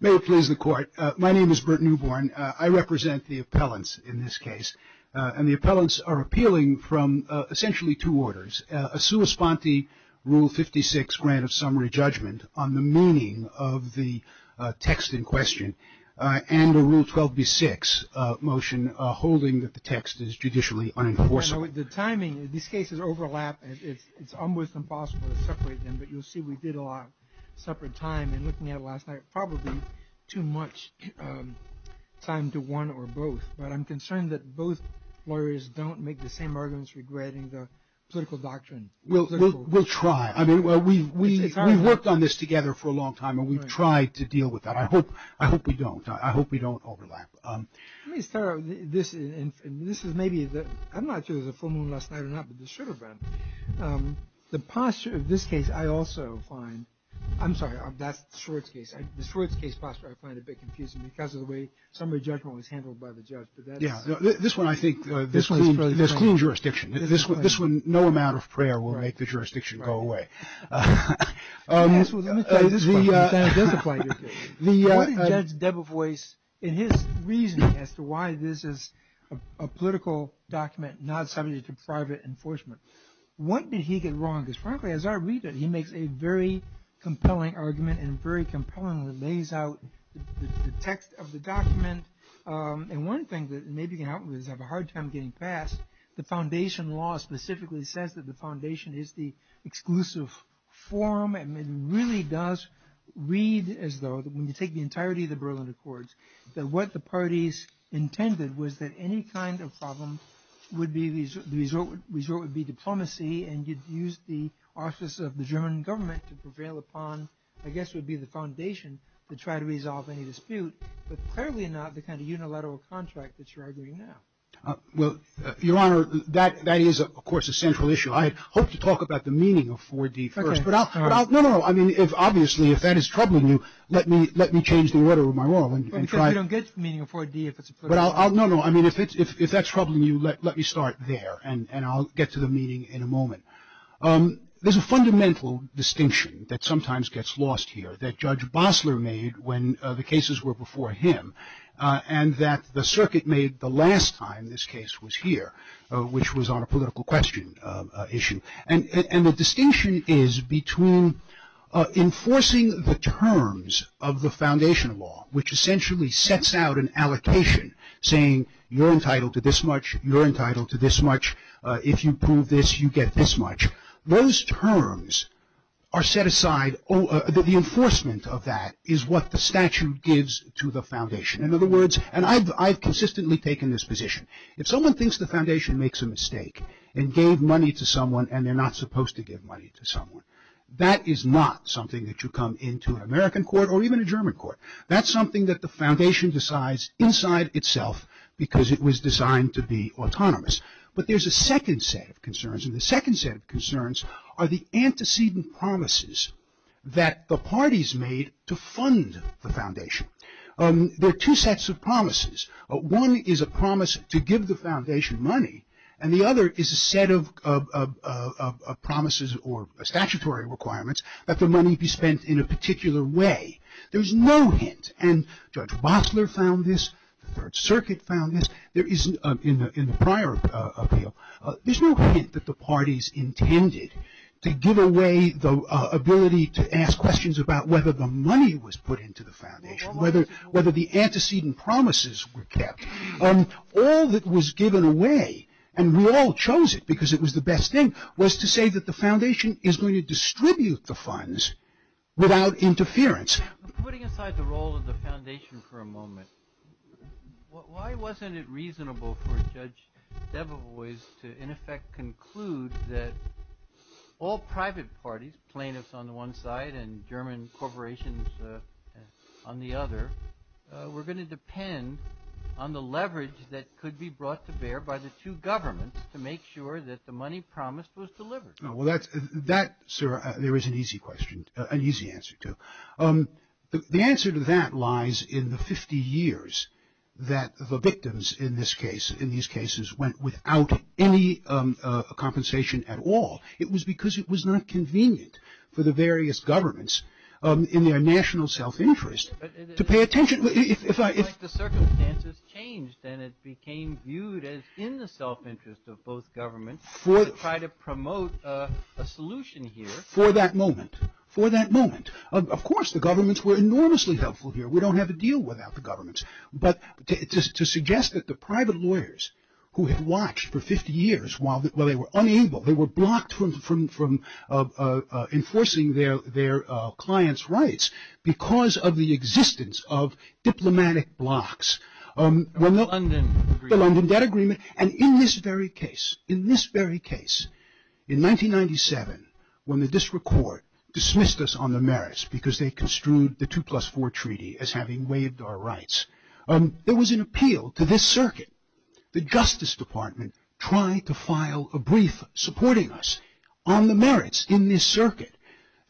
May it please the court. My name is Bert Newborn. I represent the appellants in this case, and the appellants are appealing from essentially two orders, a sua sponte Rule 56 grant of summary judgment on the meaning of the text in question, and a Rule 12b6 motion holding that the text is judicially unenforceable. So the timing of these cases overlap, and it's almost impossible to separate them, but you'll see we did a lot of separate time, and looking at it last night, probably too much time to one or both, but I'm concerned that both lawyers don't make the same arguments regretting the political doctrine. We'll try. I mean, well, we worked on this together for a long time, and we've tried to deal with that. I hope we don't. I hope we don't overlap. Let me start with this, and this is maybe, I'm not sure if there was a full moon last night or not, but there should have been. The posture of this case, I also find, I'm sorry, that's the Schwartz case. The Schwartz case posture I find a bit confusing because of the way summary judgment was handled by the judge. This one, I think, there's clean jurisdiction. This one, no amount of prayer will make the jurisdiction go away. What did Judge Debevoise, in his reasoning as to why this is a political document not subject to private enforcement, what did he get wrong? Because frankly, as our reader, he makes a very compelling argument and very compellingly lays out the text of the document. One thing that may be going to happen, we're going to have a hard time getting past, the foundation law specifically says that the foundation is the exclusive forum. It really does read as though, when you take the entirety of the Berlin Accords, that what the parties intended was that any kind of problem, the result would be diplomacy, and you'd use the office of the German government to prevail upon, I guess, would be the foundation to try to resolve any dispute. But clearly not the kind of unilateral contract that you're arguing now. Well, Your Honor, that is, of course, a central issue. I hope to talk about the meaning of 4D first. No, no, no. I mean, obviously, if that is troubling you, let me change the order of my role. Because we don't get to the meaning of 4D if it's a political document. No, no. I mean, if that's troubling you, let me start there and I'll get to the meaning in a moment. There's a fundamental distinction that sometimes gets lost here that Judge Bossler made when the cases were before him. And that the circuit made the last time this case was here, which was on a political question issue. And the distinction is between enforcing the terms of the foundation law, which essentially sets out an allocation, saying you're entitled to this much, you're entitled to this much. If you prove this, you get this much. Those terms are set aside. The enforcement of that is what the statute gives to the foundation. And I've consistently taken this position. If someone thinks the foundation makes a mistake and gave money to someone and they're not supposed to give money to someone, that is not something that you come into an American court or even a German court. That's something that the foundation decides inside itself because it was designed to be autonomous. But there's a second set of concerns. And the second set of concerns are the antecedent promises that the parties made to fund the foundation. There are two sets of promises. One is a promise to give the foundation money. And the other is a set of promises or statutory requirements that the money be spent in a particular way. There's no hint. And Judge Bossler found this. The Third Circuit found this. There is, in the prior appeal, there's no hint that the parties intended to give away the ability to ask questions about whether the money was put into the foundation. Whether the antecedent promises were kept. All that was given away, and we all chose it because it was the best thing, was to say that the foundation is going to distribute the funds without interference. Putting aside the role of the foundation for a moment, Why wasn't it reasonable for Judge Debevoise to, in effect, conclude that all private parties, plaintiffs on the one side and German corporations on the other, were going to depend on the leverage that could be brought to bear by the two governments to make sure that the money promised was delivered? Well, that, sir, there is an easy question, an easy answer to. The answer to that lies in the 50 years that the victims in this case, in these cases, went without any compensation at all. It was because it was not convenient for the various governments in their national self-interest to pay attention. The circumstances changed and it became viewed as in the self-interest of both governments to try to promote a solution here. For that moment, for that moment. Of course, the governments were enormously helpful here. We don't have a deal without the governments. But to suggest that the private lawyers who had watched for 50 years while they were unable, they were blocked from enforcing their clients' rights because of the existence of diplomatic blocks. The London Debt Agreement. And in this very case, in this very case, in 1997, when the district court dismissed us on the merits because they construed the 2 plus 4 treaty as having waived our rights, there was an appeal to this circuit. The Justice Department tried to file a brief supporting us on the merits in this circuit.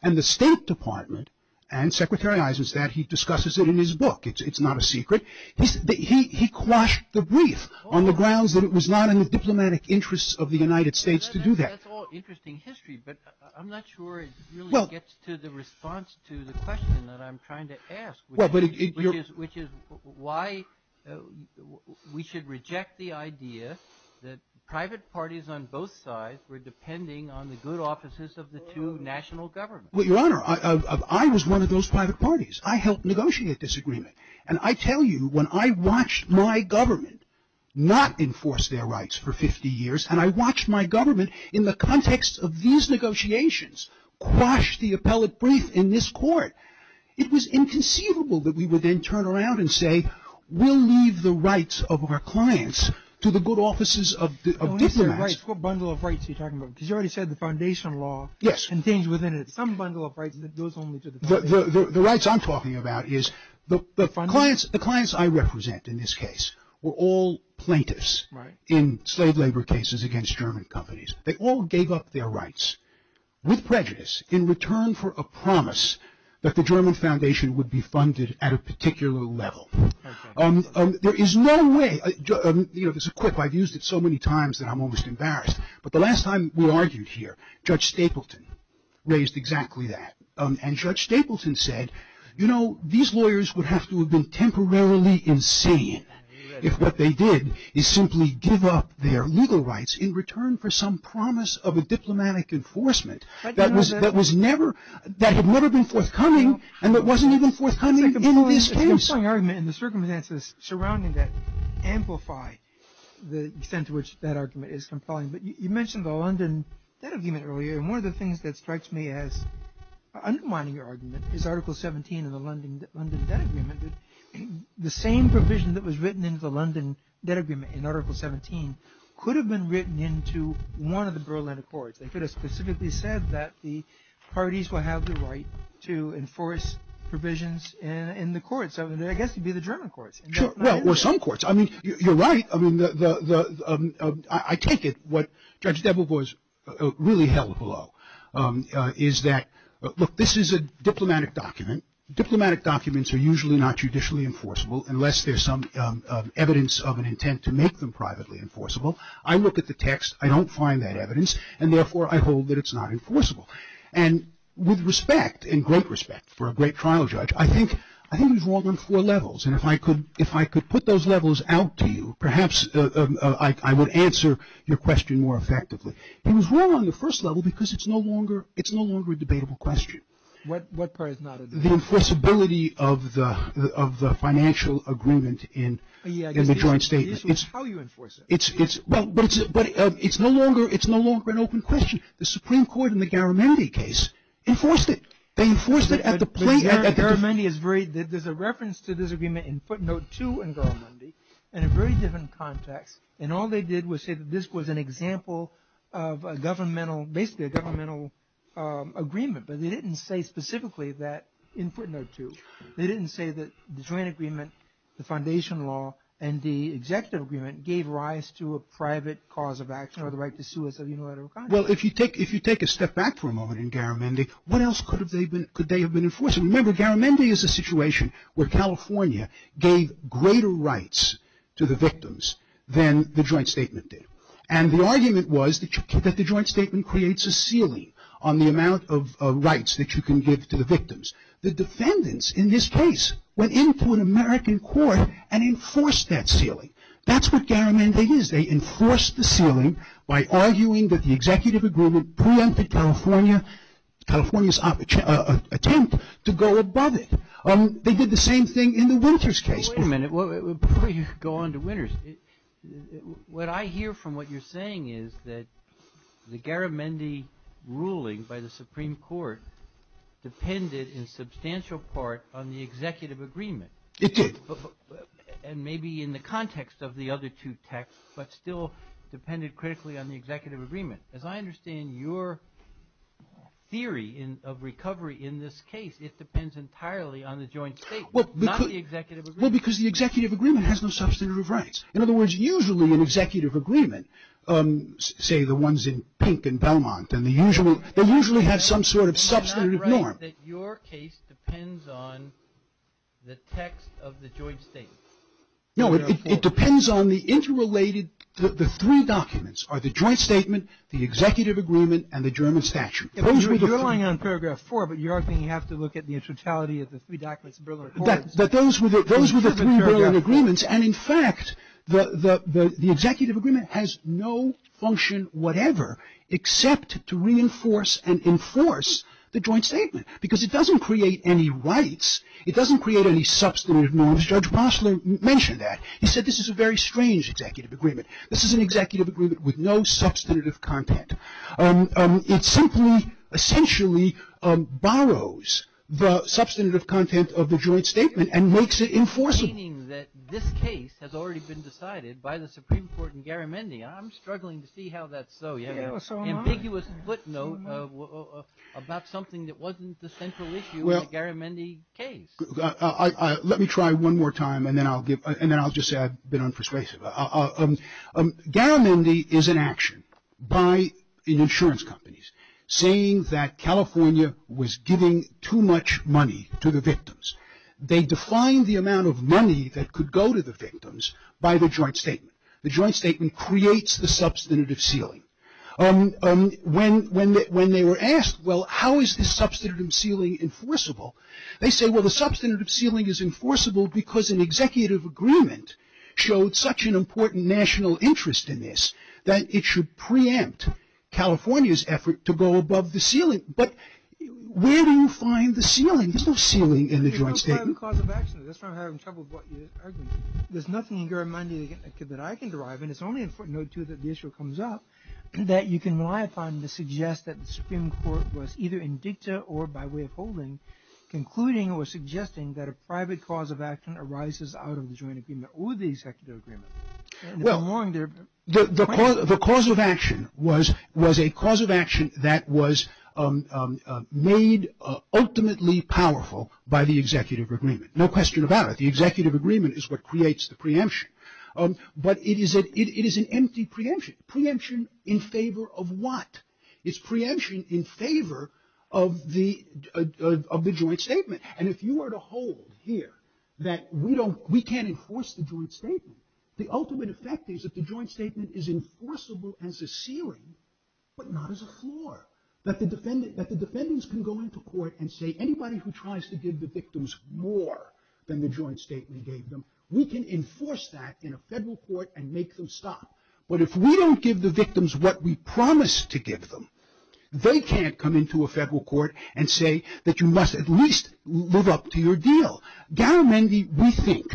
And the State Department, and Secretary Eisenstein, he discusses it in his book, it's not a secret, he quashed the brief on the grounds that it was not in the diplomatic interests of the United States to do that. That's all interesting history, but I'm not sure it really gets to the response to the question that I'm trying to ask, which is why we should reject the idea that private parties on both sides were depending on the good offices of the two national governments. Well, Your Honor, I was one of those private parties. I helped negotiate this agreement. And I tell you, when I watched my government not enforce their rights for 50 years, and I watched my government in the context of these negotiations quash the appellate brief in this court, it was inconceivable that we would then turn around and say, we'll leave the rights of our clients to the good offices of diplomats. What bundle of rights are you talking about? Because you already said the foundation law contains within it some bundle of rights that goes only to the foundation. The rights I'm talking about is the clients I represent in this case were all plaintiffs in slave labor cases against German companies. They all gave up their rights with prejudice in return for a promise that the German foundation would be funded at a particular level. There is no way, you know, this is quick, I've used it so many times that I'm almost embarrassed, but the last time we argued here, Judge Stapleton raised exactly that. And Judge Stapleton said, you know, these lawyers would have to have been temporarily insane if what they did is simply give up their legal rights in return for some promise of a diplomatic enforcement that had never been forthcoming and that wasn't even forthcoming in this case. It's a compelling argument in the circumstances surrounding that amplify the extent to which that argument is compelling. You mentioned the London debt agreement earlier. One of the things that strikes me as undermining your argument is Article 17 in the London debt agreement. The same provision that was written in the London debt agreement in Article 17 could have been written into one of the Berlin Accords. They could have specifically said that the parties will have the right to enforce provisions in the courts. I guess it would be the German courts. Well, or some courts. I mean, you're right. I take it what Judge Debovois really held below is that, look, this is a diplomatic document. Diplomatic documents are usually not judicially enforceable unless there's some evidence of an intent to make them privately enforceable. I look at the text. I don't find that evidence, and therefore, I hold that it's not enforceable. And with respect and great respect for a great trial judge, I think he's wrong on four levels. And if I could put those levels out to you, perhaps I would answer your question more effectively. He was wrong on the first level because it's no longer a debatable question. What part is not a debate? The enforceability of the financial agreement in the joint statement. The issue is how you enforce it. But it's no longer an open question. The Supreme Court in the Garamendi case enforced it. They enforced it at the plate. Garamendi is very – there's a reference to this agreement in footnote two in Garamendi in a very different context. And all they did was say that this was an example of a governmental – basically a governmental agreement. But they didn't say specifically that in footnote two. They didn't say that the joint agreement, the foundation law, and the executive agreement gave rise to a private cause of action or the right to sue as a unilateral contract. Well, if you take a step back for a moment in Garamendi, what else could they have been enforcing? Remember, Garamendi is a situation where California gave greater rights to the victims than the joint statement did. And the argument was that the joint statement creates a ceiling on the amount of rights that you can give to the victims. The defendants in this case went into an American court and enforced that ceiling. That's what Garamendi is. They enforced the ceiling by arguing that the executive agreement preempted California's attempt to go above it. They did the same thing in the Winters case. Wait a minute. Before you go on to Winters, what I hear from what you're saying is that the Garamendi ruling by the Supreme Court depended in substantial part on the executive agreement. It did. And maybe in the context of the other two texts, but still depended critically on the executive agreement. As I understand your theory of recovery in this case, it depends entirely on the joint statement, not the executive agreement. Well, because the executive agreement has no substantive rights. In other words, usually an executive agreement, say the ones in Pink and Belmont, they usually have some sort of substantive norm. So you're saying that your case depends on the text of the joint statement. No, it depends on the interrelated, the three documents, are the joint statement, the executive agreement, and the German statute. You're relying on paragraph four, but you are saying you have to look at the totality of the three documents. Those were the three Berlin agreements. And in fact, the executive agreement has no function whatever, except to reinforce and enforce the joint statement, because it doesn't create any rights. It doesn't create any substantive norms. Judge Mosler mentioned that. He said this is a very strange executive agreement. This is an executive agreement with no substantive content. It simply essentially borrows the substantive content of the joint statement and makes it enforceable. Meaning that this case has already been decided by the Supreme Court in Garamendi. I'm struggling to see how that's so. You have an ambiguous footnote about something that wasn't the central issue in the Garamendi case. Let me try one more time, and then I'll just say I've been unpersuasive. Garamendi is an action by insurance companies saying that California was giving too much money to the victims. They defined the amount of money that could go to the victims by the joint statement. The joint statement creates the substantive ceiling. When they were asked, well, how is this substantive ceiling enforceable, they said, well, the substantive ceiling is enforceable because an executive agreement showed such an important national interest in this that it should preempt California's effort to go above the ceiling. But where do you find the ceiling? There's no ceiling in the joint statement. That's why I'm having trouble with what you're arguing. There's nothing in Garamendi that I can derive, and it's only in footnote two that the issue comes up, that you can rely upon to suggest that the Supreme Court was either in dicta or by way of holding, concluding or suggesting that a private cause of action arises out of the joint agreement or the executive agreement. The cause of action was a cause of action that was made ultimately powerful by the executive agreement. No question about it. The executive agreement is what creates the preemption. But it is an empty preemption. Preemption in favor of what? It's preemption in favor of the joint statement. And if you were to hold here that we can't enforce the joint statement, the ultimate effect is that the joint statement is enforceable as a ceiling but not as a floor, that the defendants can go into court and say, anybody who tries to give the victims more than the joint statement gave them, we can enforce that in a federal court and make them stop. But if we don't give the victims what we promised to give them, they can't come into a federal court and say that you must at least live up to your deal. Gower-Mendee, we think,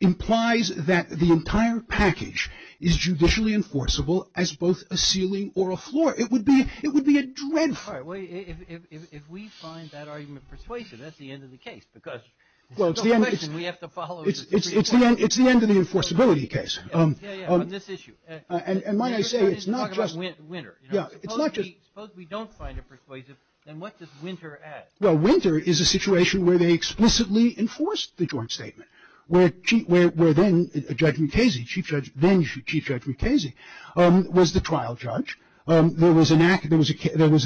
implies that the entire package is judicially enforceable as both a ceiling or a floor. It would be a dreadful. If we find that argument persuasive, that's the end of the case because there's no question we have to follow the Supreme Court. It's the end of the enforceability case. Yeah, yeah, on this issue. And might I say it's not just. Winter. Yeah, it's not just. Suppose we don't find it persuasive, then what does winter add? Well, winter is a situation where they explicitly enforced the joint statement, where then Judge Mukasey, then Chief Judge Mukasey, was the trial judge. There was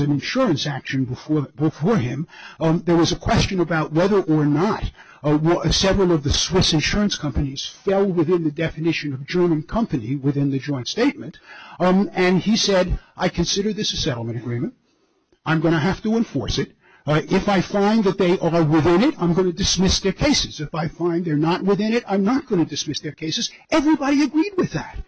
an insurance action before him. There was a question about whether or not several of the Swiss insurance companies fell within the definition of German company within the joint statement. And he said, I consider this a settlement agreement. I'm going to have to enforce it. If I find that they are within it, I'm going to dismiss their cases. If I find they're not within it, I'm not going to dismiss their cases. Everybody agreed with that.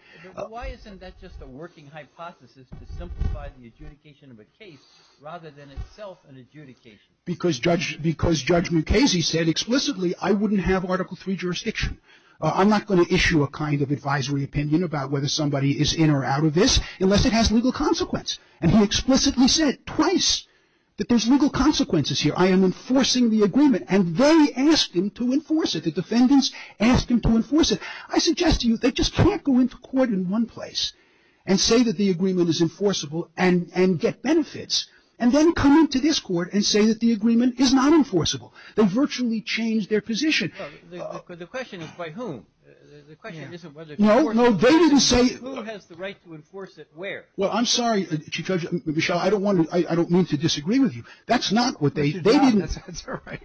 Why isn't that just a working hypothesis to simplify the adjudication of a case rather than itself an adjudication? Because Judge Mukasey said explicitly I wouldn't have Article III jurisdiction. I'm not going to issue a kind of advisory opinion about whether somebody is in or out of this unless it has legal consequence. And he explicitly said twice that there's legal consequences here. I am enforcing the agreement. And they asked him to enforce it. The defendants asked him to enforce it. I suggest to you they just can't go into court in one place and say that the agreement is enforceable and get benefits and then come into this court and say that the agreement is not enforceable. They virtually changed their position. The question is by whom? The question isn't whether the court. No, no, they didn't say. Who has the right to enforce it where? Well, I'm sorry, Judge Michel, I don't want to, I don't mean to disagree with you. That's not what they, they didn't. That's all right.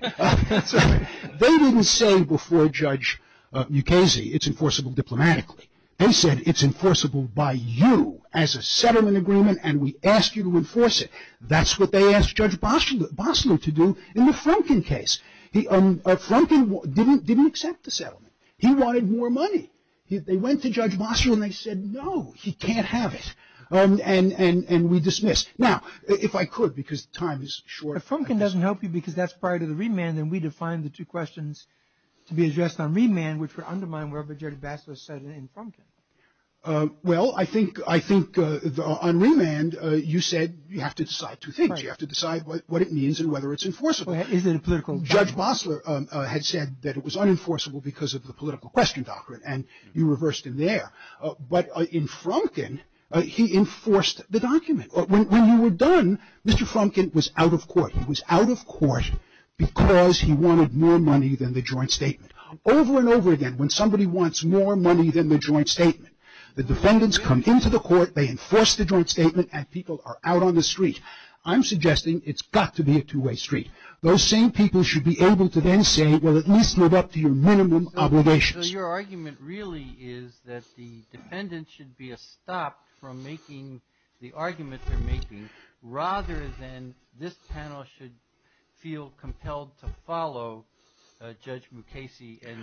That's all right. They didn't say before Judge Mukasey it's enforceable diplomatically. They said it's enforceable by you as a settlement agreement and we ask you to enforce it. That's what they asked Judge Bostler to do in the Frumkin case. Frumkin didn't accept the settlement. He wanted more money. They went to Judge Bostler and they said no, he can't have it. And we dismissed. Now, if I could, because time is short. Well, I think on remand you said you have to decide two things. You have to decide what it means and whether it's enforceable. Judge Bostler had said that it was unenforceable because of the political question, and you reversed him there. But in Frumkin, he enforced the document. When you were done, Mr. Frumkin was out of court. Because he wanted more money than the joint statement. Over and over again, when somebody wants more money than the joint statement, the defendants come into the court, they enforce the joint statement, and people are out on the street. I'm suggesting it's got to be a two-way street. Those same people should be able to then say, well, at least live up to your minimum obligations. So your argument really is that the defendants should be stopped from making the argument they're making, rather than this panel should feel compelled to follow Judge Mukasey and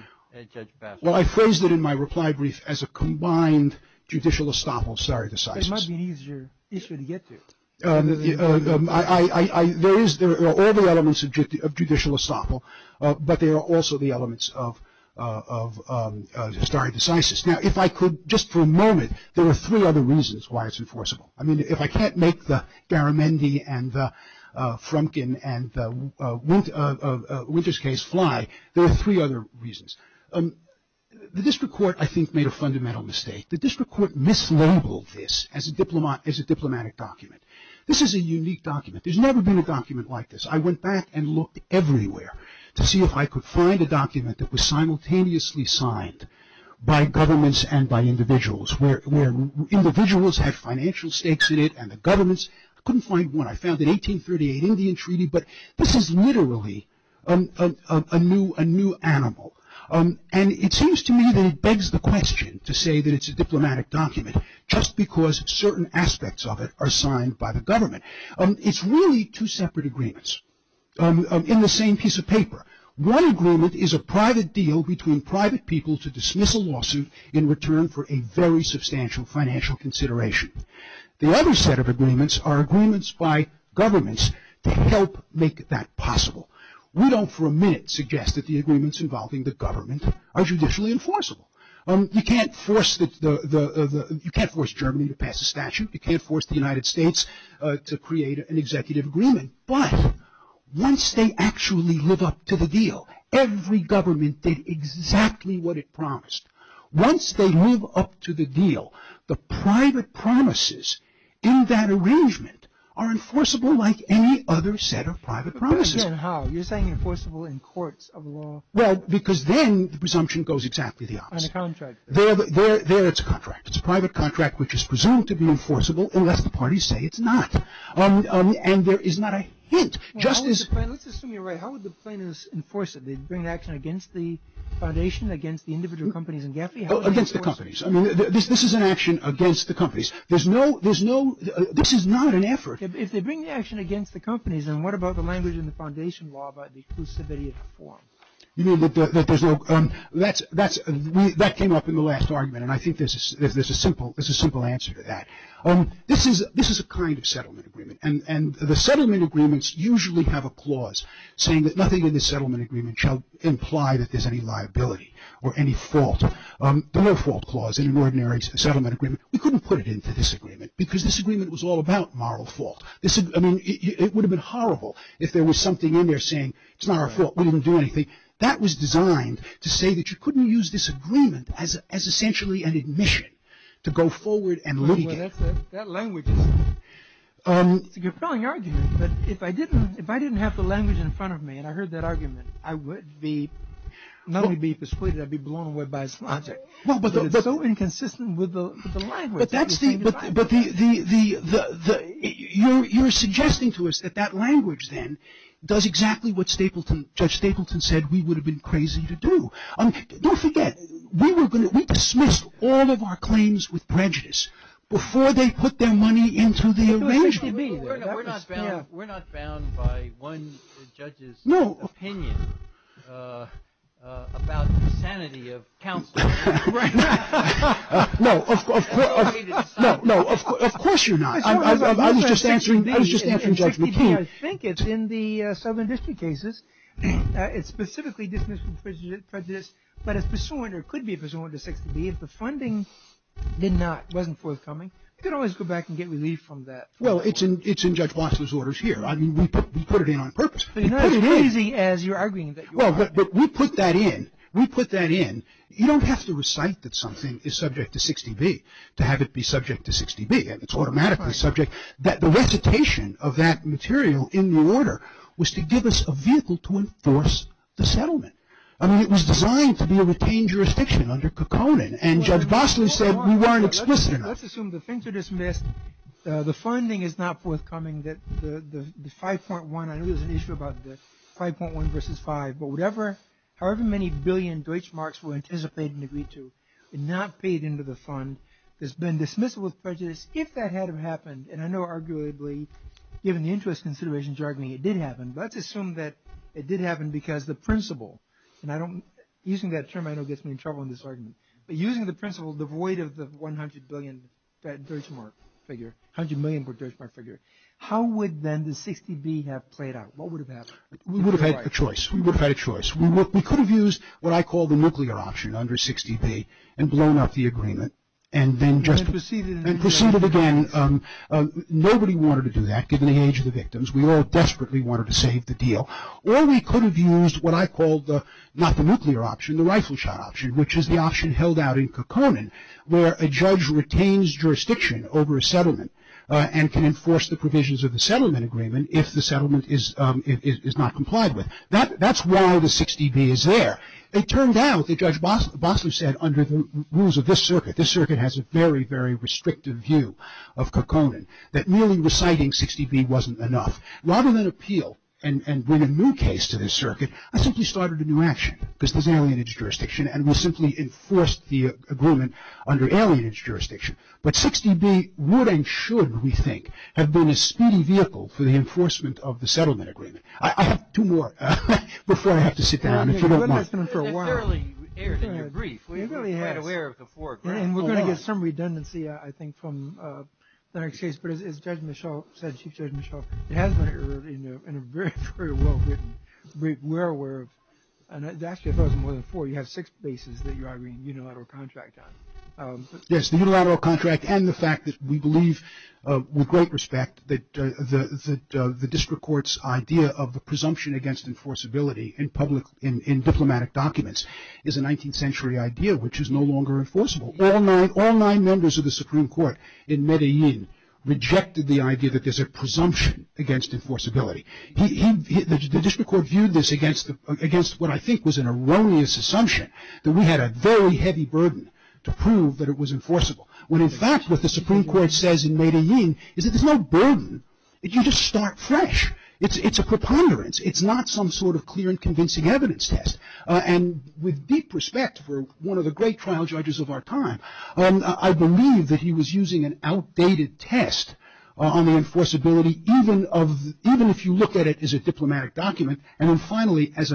Judge Bostler. Well, I phrased it in my reply brief as a combined judicial estoppel of stare decisis. It might be an easier issue to get to. There are all the elements of judicial estoppel, but there are also the elements of stare decisis. Now, if I could, just for a moment, there are three other reasons why it's enforceable. I mean, if I can't make the Garamendi and the Frumkin and the Winters case fly, there are three other reasons. The district court, I think, made a fundamental mistake. The district court mislabeled this as a diplomatic document. This is a unique document. There's never been a document like this. I went back and looked everywhere to see if I could find a document that was simultaneously signed by governments and by individuals, where individuals had financial stakes in it and the governments couldn't find one. I found an 1838 Indian Treaty, but this is literally a new animal. And it seems to me that it begs the question to say that it's a diplomatic document, just because certain aspects of it are signed by the government. It's really two separate agreements in the same piece of paper. One agreement is a private deal between private people to dismiss a lawsuit in return for a very substantial financial consideration. The other set of agreements are agreements by governments to help make that possible. We don't for a minute suggest that the agreements involving the government are judicially enforceable. You can't force Germany to pass a statute. You can't force the United States to create an executive agreement. But once they actually live up to the deal, every government did exactly what it promised. Once they live up to the deal, the private promises in that arrangement are enforceable like any other set of private promises. Again, how? You're saying enforceable in courts of law. Well, because then the presumption goes exactly the opposite. On a contract. There it's a contract. It's a private contract which is presumed to be enforceable unless the parties say it's not. And there is not a hint. Let's assume you're right. How would the plaintiffs enforce it? They'd bring action against the foundation, against the individual companies in Gafi? Against the companies. This is an action against the companies. This is not an effort. If they bring the action against the companies, then what about the language in the foundation law about the inclusivity of the form? That came up in the last argument. And I think there's a simple answer to that. This is a kind of settlement agreement. And the settlement agreements usually have a clause saying that nothing in the settlement agreement shall imply that there's any liability or any fault. There were fault clause in an ordinary settlement agreement. We couldn't put it into this agreement because this agreement was all about moral fault. I mean, it would have been horrible if there was something in there saying it's not our fault. We didn't do anything. That was designed to say that you couldn't use this agreement as essentially an admission to go forward and look at it. That language is a compelling argument. But if I didn't have the language in front of me and I heard that argument, I would be not only be persuaded, I'd be blown away by his logic. But it's so inconsistent with the language. But you're suggesting to us that that language then does exactly what Judge Stapleton said we would have been crazy to do. Don't forget, we dismissed all of our claims with prejudice before they put their money into the arrangement. We're not bound by one judge's opinion about the sanity of counsel. No, of course you're not. I was just answering Judge McKeon. I think it's in the Southern District cases. It's specifically dismissed with prejudice. But it could be pursuant to 6 to B if the funding wasn't forthcoming. You could always go back and get relief from that. Well, it's in Judge Bossler's orders here. I mean, we put it in on purpose. You're not as crazy as you're arguing that you are. But we put that in. We put that in. You don't have to recite that something is subject to 6 to B to have it be subject to 6 to B. It's automatically subject. The recitation of that material in the order was to give us a vehicle to enforce the settlement. I mean, it was designed to be a retained jurisdiction under Kokkonen. And Judge Bossler said we weren't explicit enough. Let's assume the things are dismissed. The funding is not forthcoming. The 5.1, I know there's an issue about the 5.1 versus 5. But however many billion Deutschmarks were anticipated and agreed to and not paid into the fund, has been dismissed with prejudice if that hadn't happened. And I know arguably, given the interest considerations you're arguing, it did happen. But let's assume that it did happen because the principle, and using that term I know gets me in trouble in this argument. But using the principle devoid of the 100 billion Deutschmark figure, 100 million Deutschmark figure, how would then the 6 to B have played out? What would have happened? We would have had a choice. We would have had a choice. We could have used what I call the nuclear option under 6 to B and blown up the agreement and then just proceeded again. Nobody wanted to do that given the age of the victims. We all desperately wanted to save the deal. Or we could have used what I call the, not the nuclear option, the rifle shot option, which is the option held out in Kokkonen where a judge retains jurisdiction over a settlement and can enforce the provisions of the settlement agreement if the settlement is not complied with. That's why the 6 to B is there. It turned out that Judge Boslow said under the rules of this circuit, this circuit has a very, very restrictive view of Kokkonen, that merely reciting 6 to B wasn't enough. Rather than appeal and bring a new case to this circuit, I simply started a new action because there's alienage jurisdiction and we'll simply enforce the agreement under alienage jurisdiction. But 6 to B would and should, we think, have been a speedy vehicle for the enforcement of the settlement agreement. I have two more before I have to sit down if you don't mind. It has been for a while. It barely aired in your brief. We're quite aware of the foreground. And we're going to get some redundancy, I think, from the next case. But as Judge Mischel said, Chief Judge Mischel, it has been aired in a very, very well-written brief. We're aware of it. And actually, I thought it was more than four. You have six bases that you're arguing a unilateral contract on. Yes, the unilateral contract and the fact that we believe with great respect that the district court's idea of the presumption against enforceability in diplomatic documents is a 19th century idea which is no longer enforceable. All nine members of the Supreme Court in Medellin rejected the idea that there's a presumption against enforceability. The district court viewed this against what I think was an erroneous assumption that we had a very heavy burden to prove that it was enforceable. When, in fact, what the Supreme Court says in Medellin is that there's no burden. You just start fresh. It's a preponderance. It's not some sort of clear and convincing evidence test. And with deep respect for one of the great trial judges of our time, I believe that he was using an outdated test on the enforceability even if you look at it as a diplomatic document. And then finally, as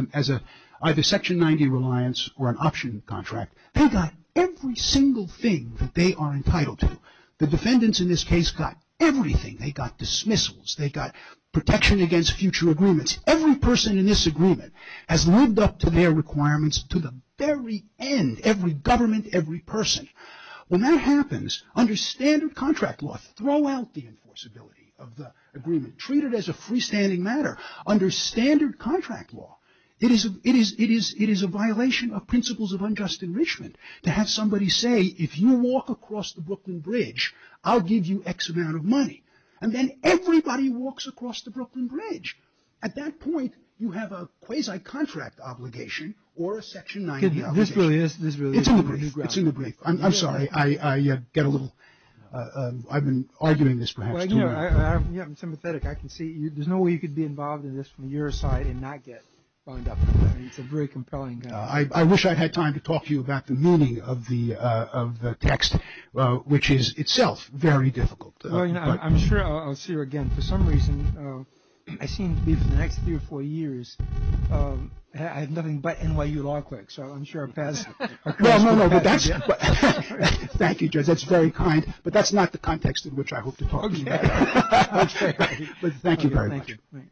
either Section 90 reliance or an option contract, they got every single thing that they are entitled to. The defendants in this case got everything. They got dismissals. They got protection against future agreements. Every person in this agreement has lived up to their requirements to the very end. Every government, every person. When that happens, under standard contract law, throw out the enforceability of the agreement. Treat it as a freestanding matter. Under standard contract law, it is a violation of principles of unjust enrichment to have somebody say, if you walk across the Brooklyn Bridge, I'll give you X amount of money. And then everybody walks across the Brooklyn Bridge. At that point, you have a quasi-contract obligation or a Section 90 obligation. This really is a new ground. It's in the brief. I'm sorry. I get a little – I've been arguing this perhaps too long. Yeah, I'm sympathetic. I can see. There's no way you could be involved in this from your side and not get fined up. It's a very compelling – I wish I had time to talk to you about the meaning of the text, which is itself very difficult. I'm sure I'll see her again. For some reason, I seem to be for the next three or four years, I have nothing but NYU law clerks. So I'm sure our past – No, no, no. Thank you, Judge. That's very kind. But that's not the context in which I hope to talk to you about. Okay. Thank you very much. Thank you.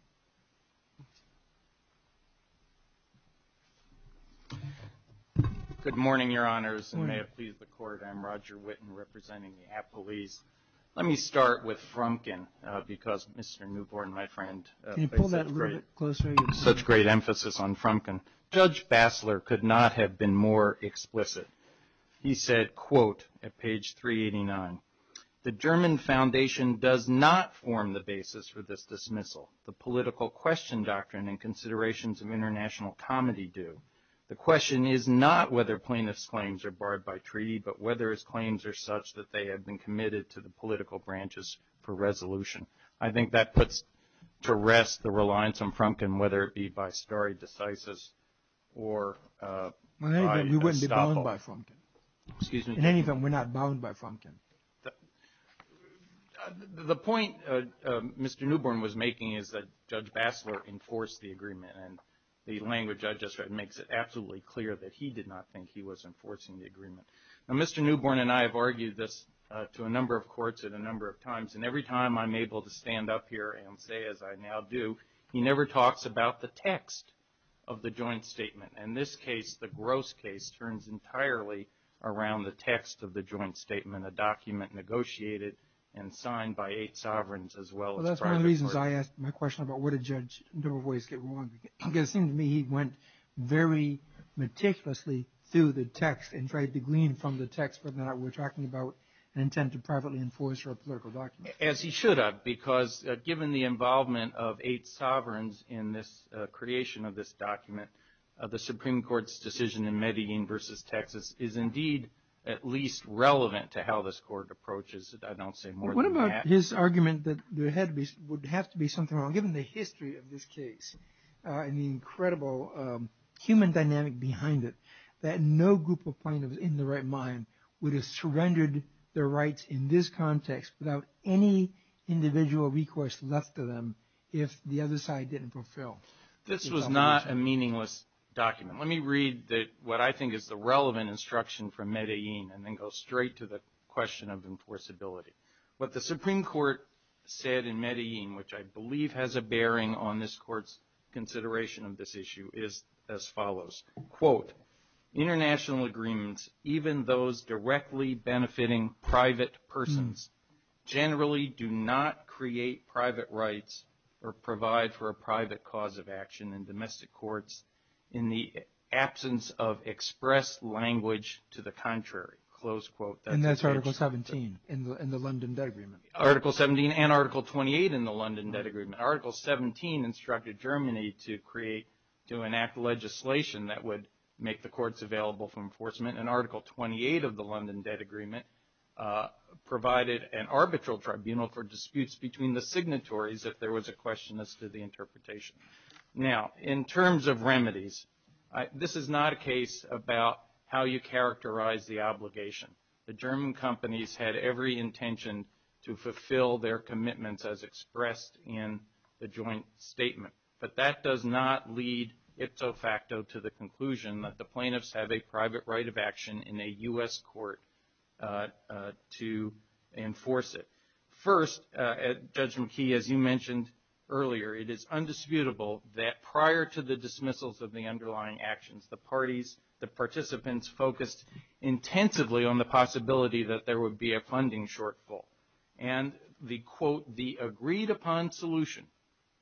Good morning, Your Honors, and may it please the Court. I'm Roger Witten, representing the appellees. Let me start with Frumkin because Mr. Newborn, my friend – Can you pull that a little bit closer? Such great emphasis on Frumkin. Judge Bassler could not have been more explicit. He said, quote, at page 389, The German Foundation does not form the basis for this dismissal. The political question doctrine and considerations of international comedy do. The question is not whether plaintiffs' claims are barred by treaty, but whether his claims are such that they have been committed to the political branches for resolution. I think that puts to rest the reliance on Frumkin, whether it be by stare decisis or – In any event, we wouldn't be bound by Frumkin. Excuse me? In any event, we're not bound by Frumkin. The point Mr. Newborn was making is that Judge Bassler enforced the agreement, and the language I just read makes it absolutely clear that he did not think he was enforcing the agreement. Now, Mr. Newborn and I have argued this to a number of courts at a number of times, and every time I'm able to stand up here and say as I now do, he never talks about the text of the joint statement. In this case, the gross case turns entirely around the text of the joint statement, a document negotiated and signed by eight sovereigns as well as private court. As I asked my question about where did Judge Newborn's voice get wrong, it seemed to me he went very meticulously through the text and tried to glean from the text, but now we're talking about an intent to privately enforce a political document. As he should have, because given the involvement of eight sovereigns in this creation of this document, the Supreme Court's decision in Medellin versus Texas is indeed at least relevant to how this court approaches, I don't say more than that. His argument that there would have to be something wrong, given the history of this case and the incredible human dynamic behind it, that no group of plaintiffs in their right mind would have surrendered their rights in this context without any individual recourse left to them if the other side didn't fulfill. This was not a meaningless document. Let me read what I think is the relevant instruction from Medellin and then go straight to the question of enforceability. What the Supreme Court said in Medellin, which I believe has a bearing on this court's consideration of this issue, is as follows. Quote, international agreements, even those directly benefiting private persons, generally do not create private rights or provide for a private cause of action in domestic courts in the absence of expressed language to the contrary. And that's Article 17 in the London Debt Agreement. Article 17 and Article 28 in the London Debt Agreement. Article 17 instructed Germany to create, to enact legislation that would make the courts available for enforcement and Article 28 of the London Debt Agreement provided an arbitral tribunal for disputes between the signatories if there was a question as to the interpretation. Now, in terms of remedies, this is not a case about how you characterize the obligation. The German companies had every intention to fulfill their commitments as expressed in the joint statement. But that does not lead ipso facto to the conclusion that the plaintiffs have a private right of action in a U.S. court to enforce it. First, Judge McKee, as you mentioned earlier, it is undisputable that prior to the dismissals of the underlying actions, the parties, the participants, focused intensively on the possibility that there would be a funding shortfall. And the, quote, the agreed upon solution,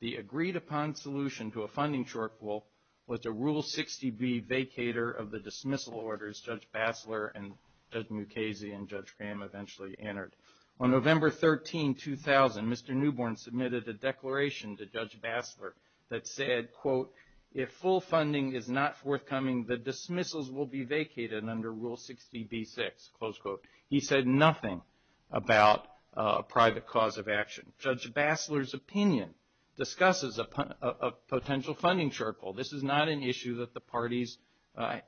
the agreed upon solution to a funding shortfall, was a Rule 60B vacater of the dismissal orders Judge Bassler and Judge Mukasey and Judge Graham eventually entered. On November 13, 2000, Mr. Newborn submitted a declaration to Judge Bassler that said, quote, if full funding is not forthcoming, the dismissals will be vacated under Rule 60B-6, close quote. He said nothing about a private cause of action. Judge Bassler's opinion discusses a potential funding shortfall. This is not an issue that the parties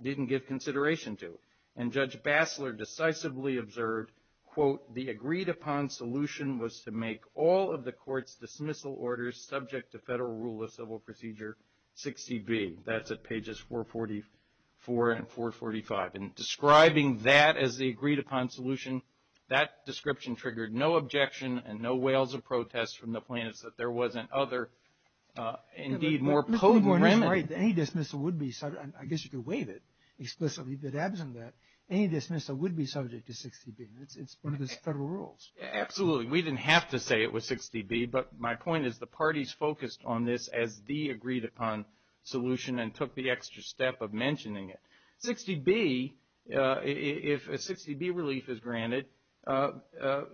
didn't give consideration to. And Judge Bassler decisively observed, quote, the agreed upon solution was to make all of the court's dismissal orders subject to Federal Rule of Civil Procedure 60B. That's at pages 444 and 445. And describing that as the agreed upon solution, that description triggered no objection and no wails of protest from the plaintiffs that there was an other, indeed, more potent remedy. Right. Any dismissal would be subject, I guess you could waive it explicitly, but absent that, any dismissal would be subject to 60B. It's one of those Federal Rules. Absolutely. We didn't have to say it was 60B, but my point is the parties focused on this as the agreed upon solution and took the extra step of mentioning it. 60B, if a 60B relief is granted, the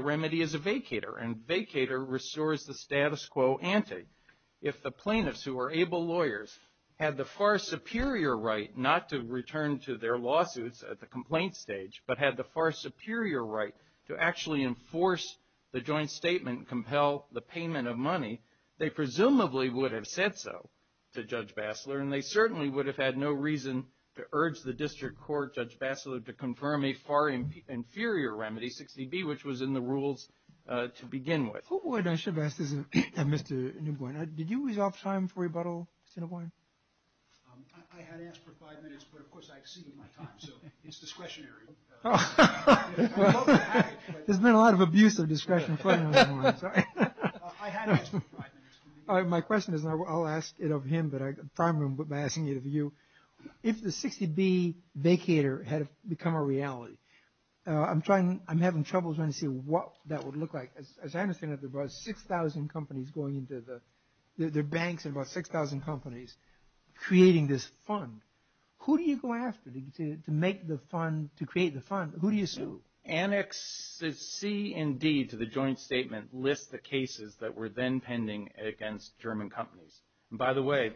remedy is a vacater. And vacater restores the status quo ante. If the plaintiffs, who are able lawyers, had the far superior right not to return to their lawsuits at the complaint stage, but had the far superior right to actually enforce the joint statement and compel the payment of money, they presumably would have said so to Judge Bassler, and they certainly would have had no reason to urge the district court, Judge Bassler, to confirm a far inferior remedy, 60B, which was in the rules to begin with. I should have asked this to Mr. Newborn. Did you use off time for rebuttal, Mr. Newborn? I had asked for five minutes, but of course I exceeded my time, so it's discretionary. There's been a lot of abuse of discretion. I had asked for five minutes. My question is, and I'll ask it of him, but I'm trying to ask it of you. If the 60B vacater had become a reality, I'm having trouble trying to see what that would look like. As I understand it, there are about 6,000 companies going into the banks, and about 6,000 companies creating this fund. Who do you go after to make the fund, to create the fund? Who do you sue? Annex C and D to the joint statement list the cases that were then pending against German companies. By the way,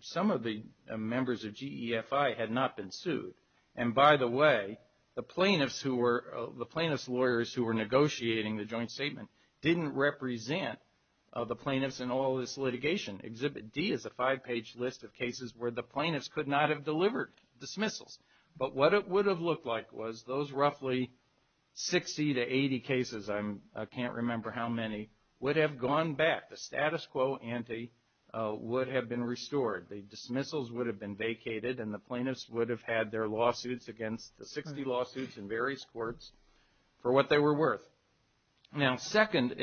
some of the members of GEFI had not been sued, and by the way, the plaintiffs lawyers who were negotiating the joint statement didn't represent the plaintiffs in all this litigation. Exhibit D is a five-page list of cases where the plaintiffs could not have delivered dismissals. But what it would have looked like was those roughly 60 to 80 cases, I can't remember how many, would have gone back. The status quo ante would have been restored. The dismissals would have been vacated, and the plaintiffs would have had their lawsuits against the 60 lawsuits in various courts for what they were worth. Now, second,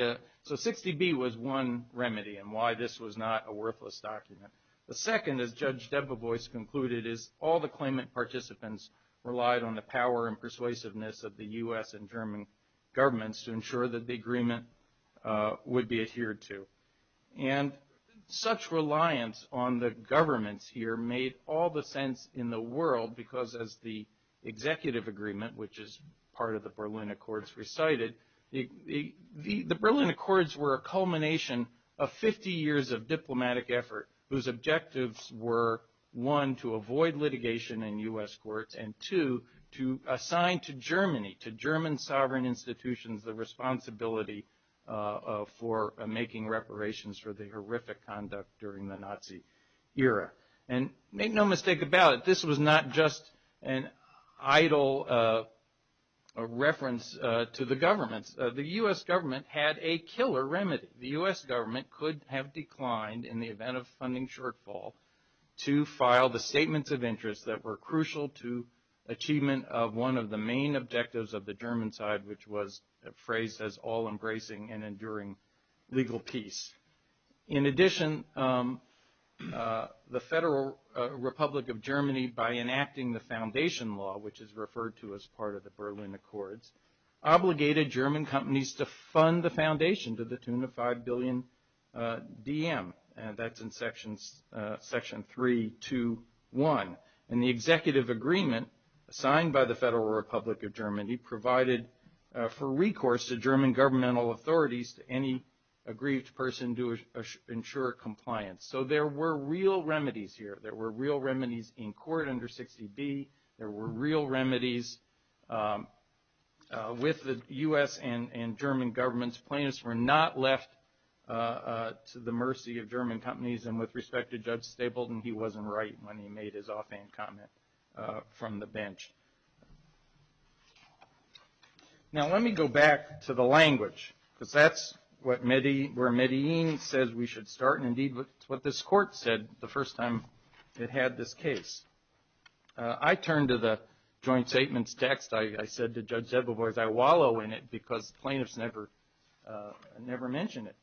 so 60B was one remedy in why this was not a worthless document. The second, as Judge Debevoise concluded, is all the claimant participants relied on the power and persuasiveness of the U.S. and German governments to ensure that the agreement would be adhered to. And such reliance on the governments here made all the sense in the world, because as the executive agreement, which is part of the Berlin Accords recited, the Berlin Accords were a culmination of 50 years of diplomatic effort whose objectives were, one, to avoid litigation in U.S. courts, and two, to assign to Germany, to German sovereign institutions, the responsibility for making reparations for the horrific conduct during the Nazi era. And make no mistake about it, this was not just an idle reference to the governments. The U.S. government had a killer remedy. The U.S. government could have declined in the event of funding shortfall to file the statements of interest that were crucial to achievement of one of the main objectives of the German side, which was phrased as all-embracing and enduring legal peace. In addition, the Federal Republic of Germany, by enacting the foundation law, which is referred to as part of the Berlin Accords, obligated German companies to fund the foundation to the tune of $5 billion DM, and that's in Section 3.2.1. And the executive agreement signed by the Federal Republic of Germany provided for recourse to German governmental authorities to any aggrieved person to ensure compliance. So there were real remedies here. There were real remedies in court under 60B. There were real remedies with the U.S. and German governments. Plaintiffs were not left to the mercy of German companies. And with respect to Judge Stapleton, he wasn't right when he made his offhand comment from the bench. Now let me go back to the language, because that's where Medellin says we should start, and indeed what this court said the first time it had this case. I turn to the joint statements text. I said to Judge Zettelberg, I wallow in it because plaintiffs never mention it.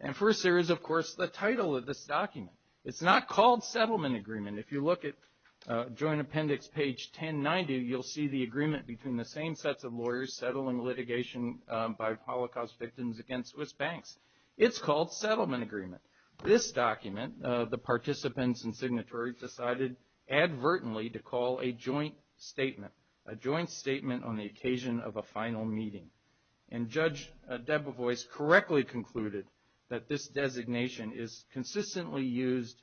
And first there is, of course, the title of this document. It's not called Settlement Agreement. If you look at Joint Appendix page 1090, you'll see the agreement between the same sets of lawyers settling litigation by Holocaust victims against Swiss banks. It's called Settlement Agreement. This document, the participants and signatories decided advertently to call a joint statement, a joint statement on the occasion of a final meeting. And Judge Debevoise correctly concluded that this designation is consistently used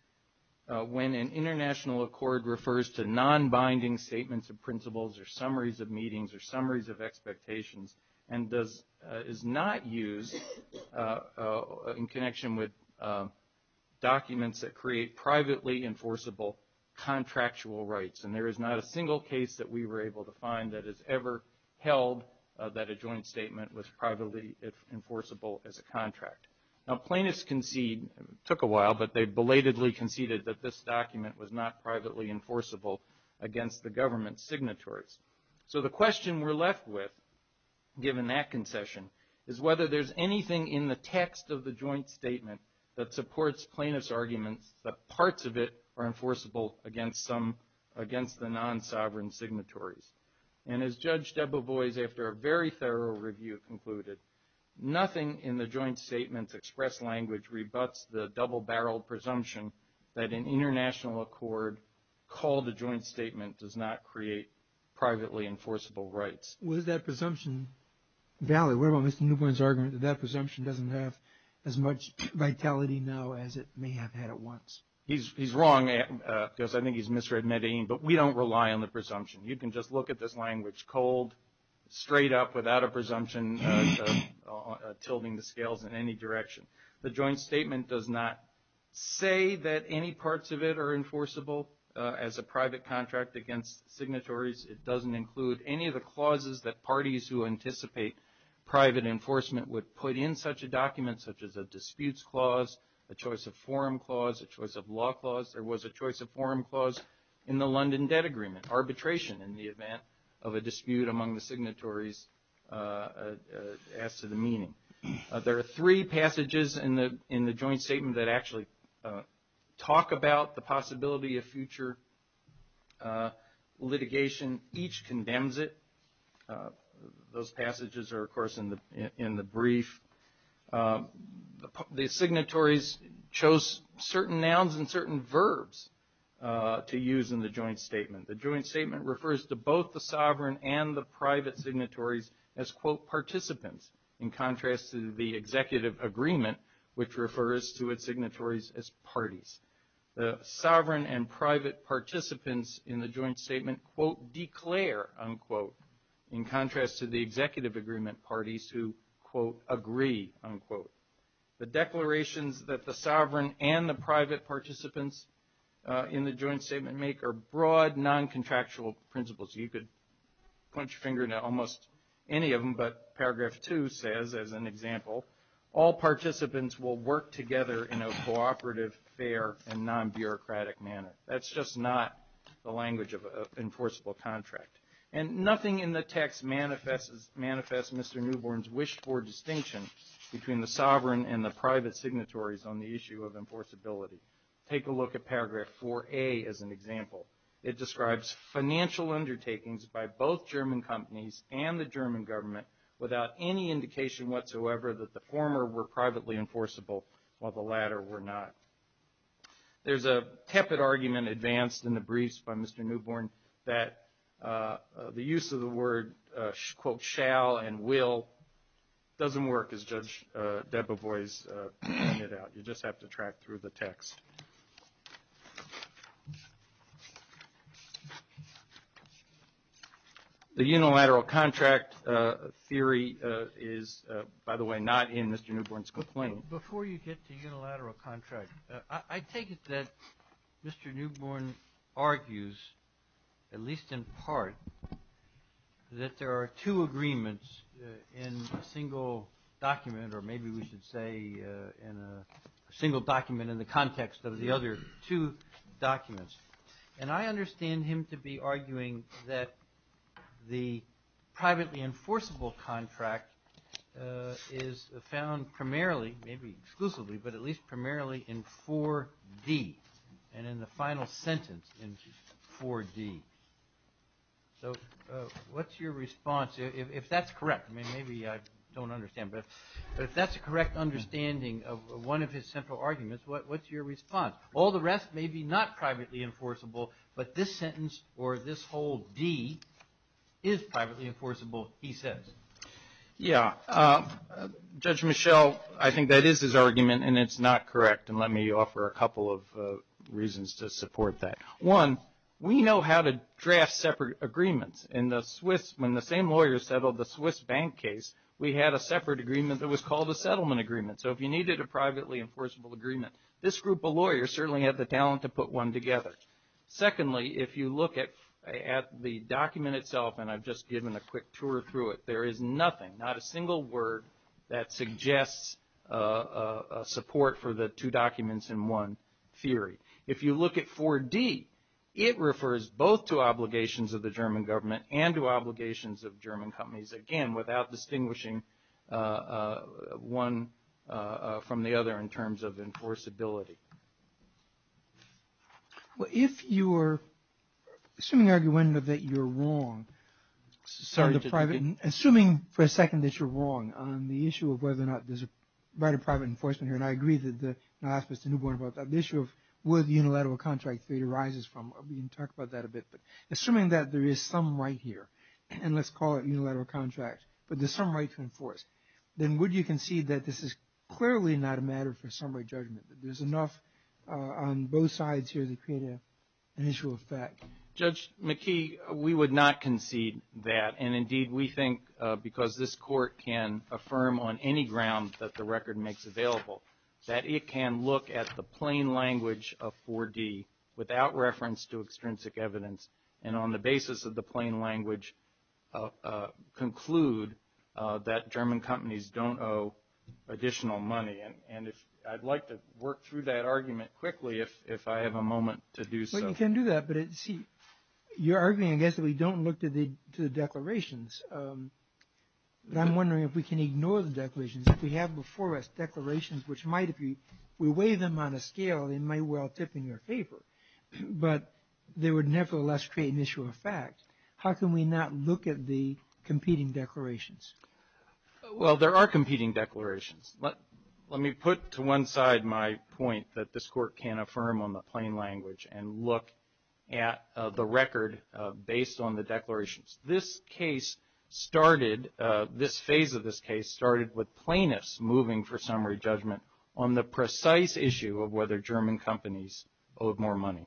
when an international accord refers to nonbinding statements of principles or summaries of meetings or summaries of expectations and is not used in connection with documents that create privately enforceable contractual rights. And there is not a single case that we were able to find that has ever held that a joint statement was privately enforceable as a contract. Now plaintiffs concede, it took a while, but they belatedly conceded that this document was not privately enforceable against the government signatories. So the question we're left with, given that concession, is whether there's anything in the text of the joint statement that supports plaintiffs' arguments that parts of it are enforceable against the non-sovereign signatories. And as Judge Debevoise, after a very thorough review, concluded, nothing in the joint statement's express language rebuts the double-barreled presumption that an international accord called a joint statement does not create privately enforceable rights. Was that presumption valid? What about Mr. Newpoint's argument that that presumption doesn't have as much vitality now as it may have had at once? He's wrong, because I think he's misreading, but we don't rely on the presumption. You can just look at this language cold, straight up, without a presumption, tilting the scales in any direction. The joint statement does not say that any parts of it are enforceable as a private contract against signatories. It doesn't include any of the clauses that parties who anticipate private enforcement would put in such a document, such as a disputes clause, a choice of forum clause, a choice of law clause. There was a choice of forum clause in the London Debt Agreement, arbitration in the event of a dispute among the signatories as to the meaning. There are three passages in the joint statement that actually talk about the possibility of future litigation. Each condemns it. Those passages are, of course, in the brief. The signatories chose certain nouns and certain verbs to use in the joint statement. The joint statement refers to both the sovereign and the private signatories as, quote, participants, in contrast to the executive agreement, which refers to its signatories as parties. The sovereign and private participants in the joint statement, quote, declare, unquote, in contrast to the executive agreement parties who, quote, agree, unquote. The declarations that the sovereign and the private participants in the joint statement make are broad, non-contractual principles. You could punch your finger into almost any of them, but paragraph two says, as an example, all participants will work together in a cooperative, fair, and non-bureaucratic manner. That's just not the language of an enforceable contract. And nothing in the text manifests Mr. Newborn's wish for distinction between the sovereign and the private signatories on the issue of enforceability. Take a look at paragraph 4A as an example. It describes financial undertakings by both German companies and the German government without any indication whatsoever that the former were privately enforceable while the latter were not. There's a tepid argument advanced in the briefs by Mr. Newborn that the use of the word, quote, shall and will doesn't work as Judge Debevoise pointed out. You just have to track through the text. The unilateral contract theory is, by the way, not in Mr. Newborn's complaint. Before you get to unilateral contract, I take it that Mr. Newborn argues, at least in part, that there are two agreements in a single document or maybe we should say in a single document in the context of the other two documents. And I understand him to be arguing that the privately enforceable contract is found primarily, maybe exclusively, but at least primarily in 4D and in the final sentence in 4D. So what's your response? If that's correct, I mean, maybe I don't understand, but if that's a correct understanding of one of his central arguments, what's your response? All the rest may be not privately enforceable, but this sentence or this whole D is privately enforceable, he says. Yeah. Judge Michel, I think that is his argument, and it's not correct. And let me offer a couple of reasons to support that. One, we know how to draft separate agreements. In the Swiss, when the same lawyer settled the Swiss bank case, we had a separate agreement that was called a settlement agreement. So if you needed a privately enforceable agreement, this group of lawyers certainly had the talent to put one together. Secondly, if you look at the document itself, and I've just given a quick tour through it, there is nothing, not a single word that suggests support for the two documents in one theory. If you look at 4D, it refers both to obligations of the German government and to obligations of German companies. Again, without distinguishing one from the other in terms of enforceability. Well, if you are assuming argumentatively that you're wrong, assuming for a second that you're wrong on the issue of whether or not there's a right of private enforcement here, and I agree that the issue of whether the unilateral contract theory arises from, we can talk about that a bit, but assuming that there is some right here, and let's call it unilateral contract, but there's some right to enforce, then would you concede that this is clearly not a matter for summary judgment, that there's enough on both sides here to create an issue of fact? Judge McKee, we would not concede that. And indeed, we think, because this Court can affirm on any ground that the record makes available, that it can look at the plain language of 4D without reference to extrinsic evidence, and on the basis of the plain language conclude that German companies don't owe additional money. And I'd like to work through that argument quickly if I have a moment to do so. Well, you can do that, but see, you're arguing, I guess, that we don't look to the declarations, but I'm wondering if we can ignore the declarations. If we have before us declarations which might, if we weigh them on a scale, they might well tip in your favor, but they would nevertheless create an issue of fact. How can we not look at the competing declarations? Well, there are competing declarations. Let me put to one side my point that this Court can affirm on the plain language and look at the record based on the declarations. This case started, this phase of this case started with plaintiffs moving for summary judgment on the precise issue of whether German companies owed more money.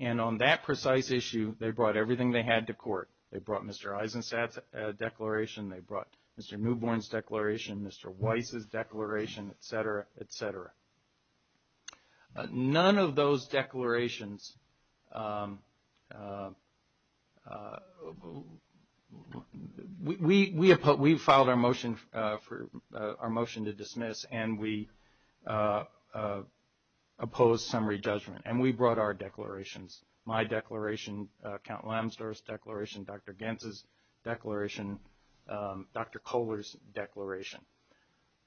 And on that precise issue, they brought everything they had to court. They brought Mr. Eisenstadt's declaration, they brought Mr. Newborn's declaration, Mr. Weiss's declaration, et cetera, et cetera. None of those declarations, we filed our motion to dismiss and we opposed summary judgment and we brought our declarations, my declaration, Count Lambsdorff's declaration, Dr. Gantz's declaration, Dr. Kohler's declaration.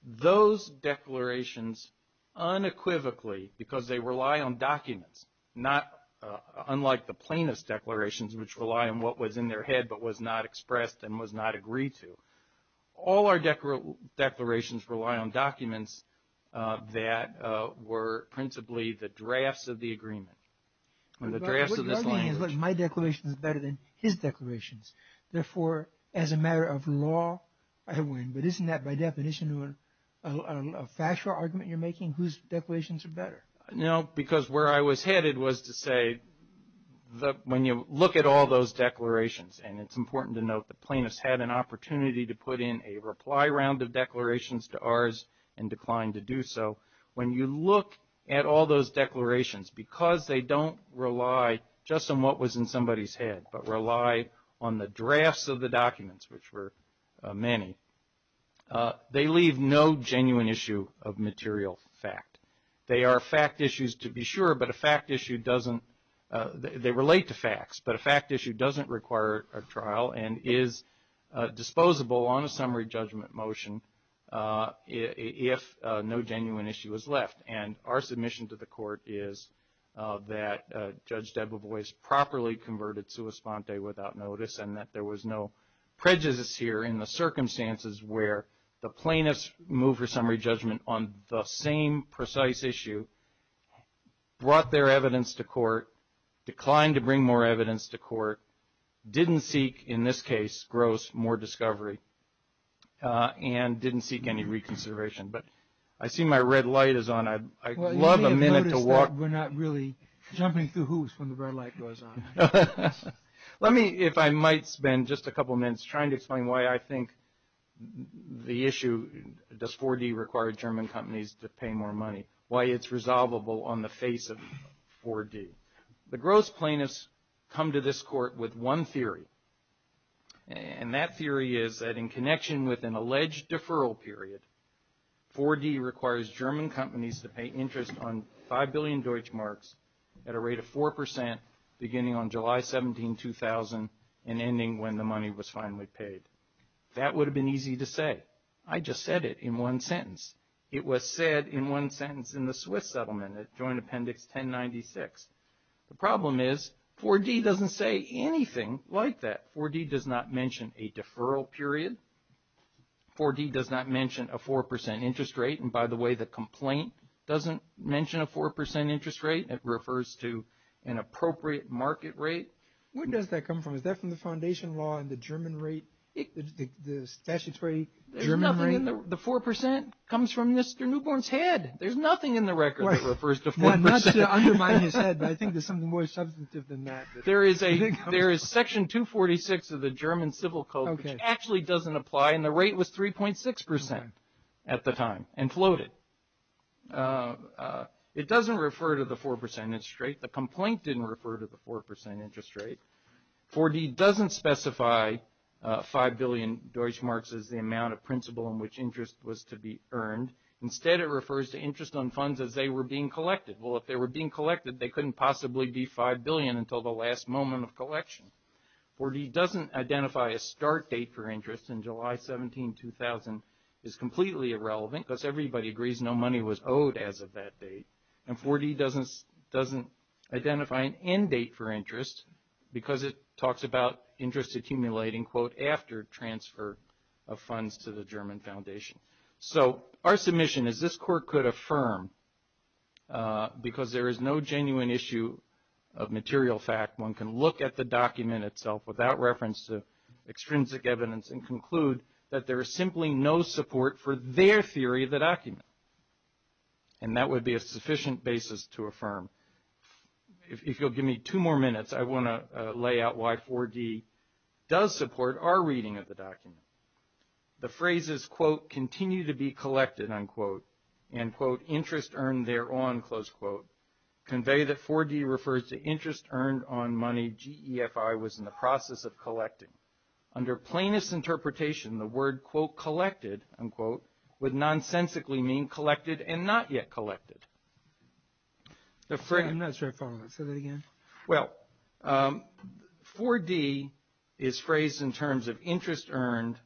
Those declarations unequivocally, because they rely on documents, not unlike the plaintiffs' declarations which rely on what was in their head but was not expressed and was not agreed to. All our declarations rely on documents that were principally the drafts of the agreement. The drafts of this language. My declaration is better than his declarations. Therefore, as a matter of law, I win. But isn't that, by definition, a factual argument you're making, whose declarations are better? No, because where I was headed was to say when you look at all those declarations, and it's important to note the plaintiffs had an opportunity to put in a reply round of declarations to ours and declined to do so. When you look at all those declarations, because they don't rely just on what was in somebody's head but rely on the drafts of the documents, which were many, they leave no genuine issue of material fact. They are fact issues to be sure, but a fact issue doesn't they relate to facts, but a fact issue doesn't require a trial and is disposable on a summary judgment motion if no genuine issue is left. And our submission to the court is that Judge Debevoise properly converted sua sponte without notice and that there was no prejudice here in the circumstances where the plaintiffs moved for summary judgment on the same precise issue, brought their evidence to court, declined to bring more evidence to court, didn't seek, in this case, gross more discovery, and didn't seek any reconsideration. But I see my red light is on. I'd love a minute to walk. We're not really jumping through hoops when the red light goes on. Let me, if I might spend just a couple minutes trying to explain why I think the issue, does 4D require German companies to pay more money, why it's resolvable on the face of 4D. The gross plaintiffs come to this court with one theory, and that theory is that in connection with an alleged deferral period, 4D requires German companies to pay interest on 5 billion Deutschmarks at a rate of 4%, beginning on July 17, 2000 and ending when the money was finally paid. That would have been easy to say. I just said it in one sentence. It was said in one sentence in the Swiss settlement at Joint Appendix 1096. The problem is 4D doesn't say anything like that. 4D does not mention a deferral period. 4D does not mention a 4% interest rate. And by the way, the complaint doesn't mention a 4% interest rate. It refers to an appropriate market rate. Where does that come from? Is that from the foundation law and the German rate, the statutory German rate? The 4% comes from Mr. Newborn's head. There's nothing in the record that refers to 4%. I'm not undermining his head, but I think there's something more substantive than that. There is Section 246 of the German Civil Code, which actually doesn't apply, and the rate was 3.6% at the time and floated. It doesn't refer to the 4% interest rate. The complaint didn't refer to the 4% interest rate. 4D doesn't specify 5 billion Deutschmarks as the amount of principal in which interest was to be earned. Instead, it refers to interest on funds as they were being collected. Well, if they were being collected, they couldn't possibly be 5 billion until the last moment of collection. 4D doesn't identify a start date for interest in July 17, 2000. It's completely irrelevant because everybody agrees no money was owed as of that date. And 4D doesn't identify an end date for interest because it talks about interest accumulating, quote, after transfer of funds to the German foundation. So our submission is this court could affirm, because there is no genuine issue of material fact, one can look at the document itself without reference to extrinsic evidence and conclude that there is simply no support for their theory of the document. And that would be a sufficient basis to affirm. If you'll give me two more minutes, I want to lay out why 4D does support our reading of the document. The phrases, quote, continue to be collected, unquote, and, quote, interest earned thereon, close quote, convey that 4D refers to interest earned on money GEFI was in the process of collecting. Under plainest interpretation, the word, quote, collected, unquote, would nonsensically mean collected and not yet collected. I'm not sure I follow. Say that again. Well, 4D is phrased in terms of interest earned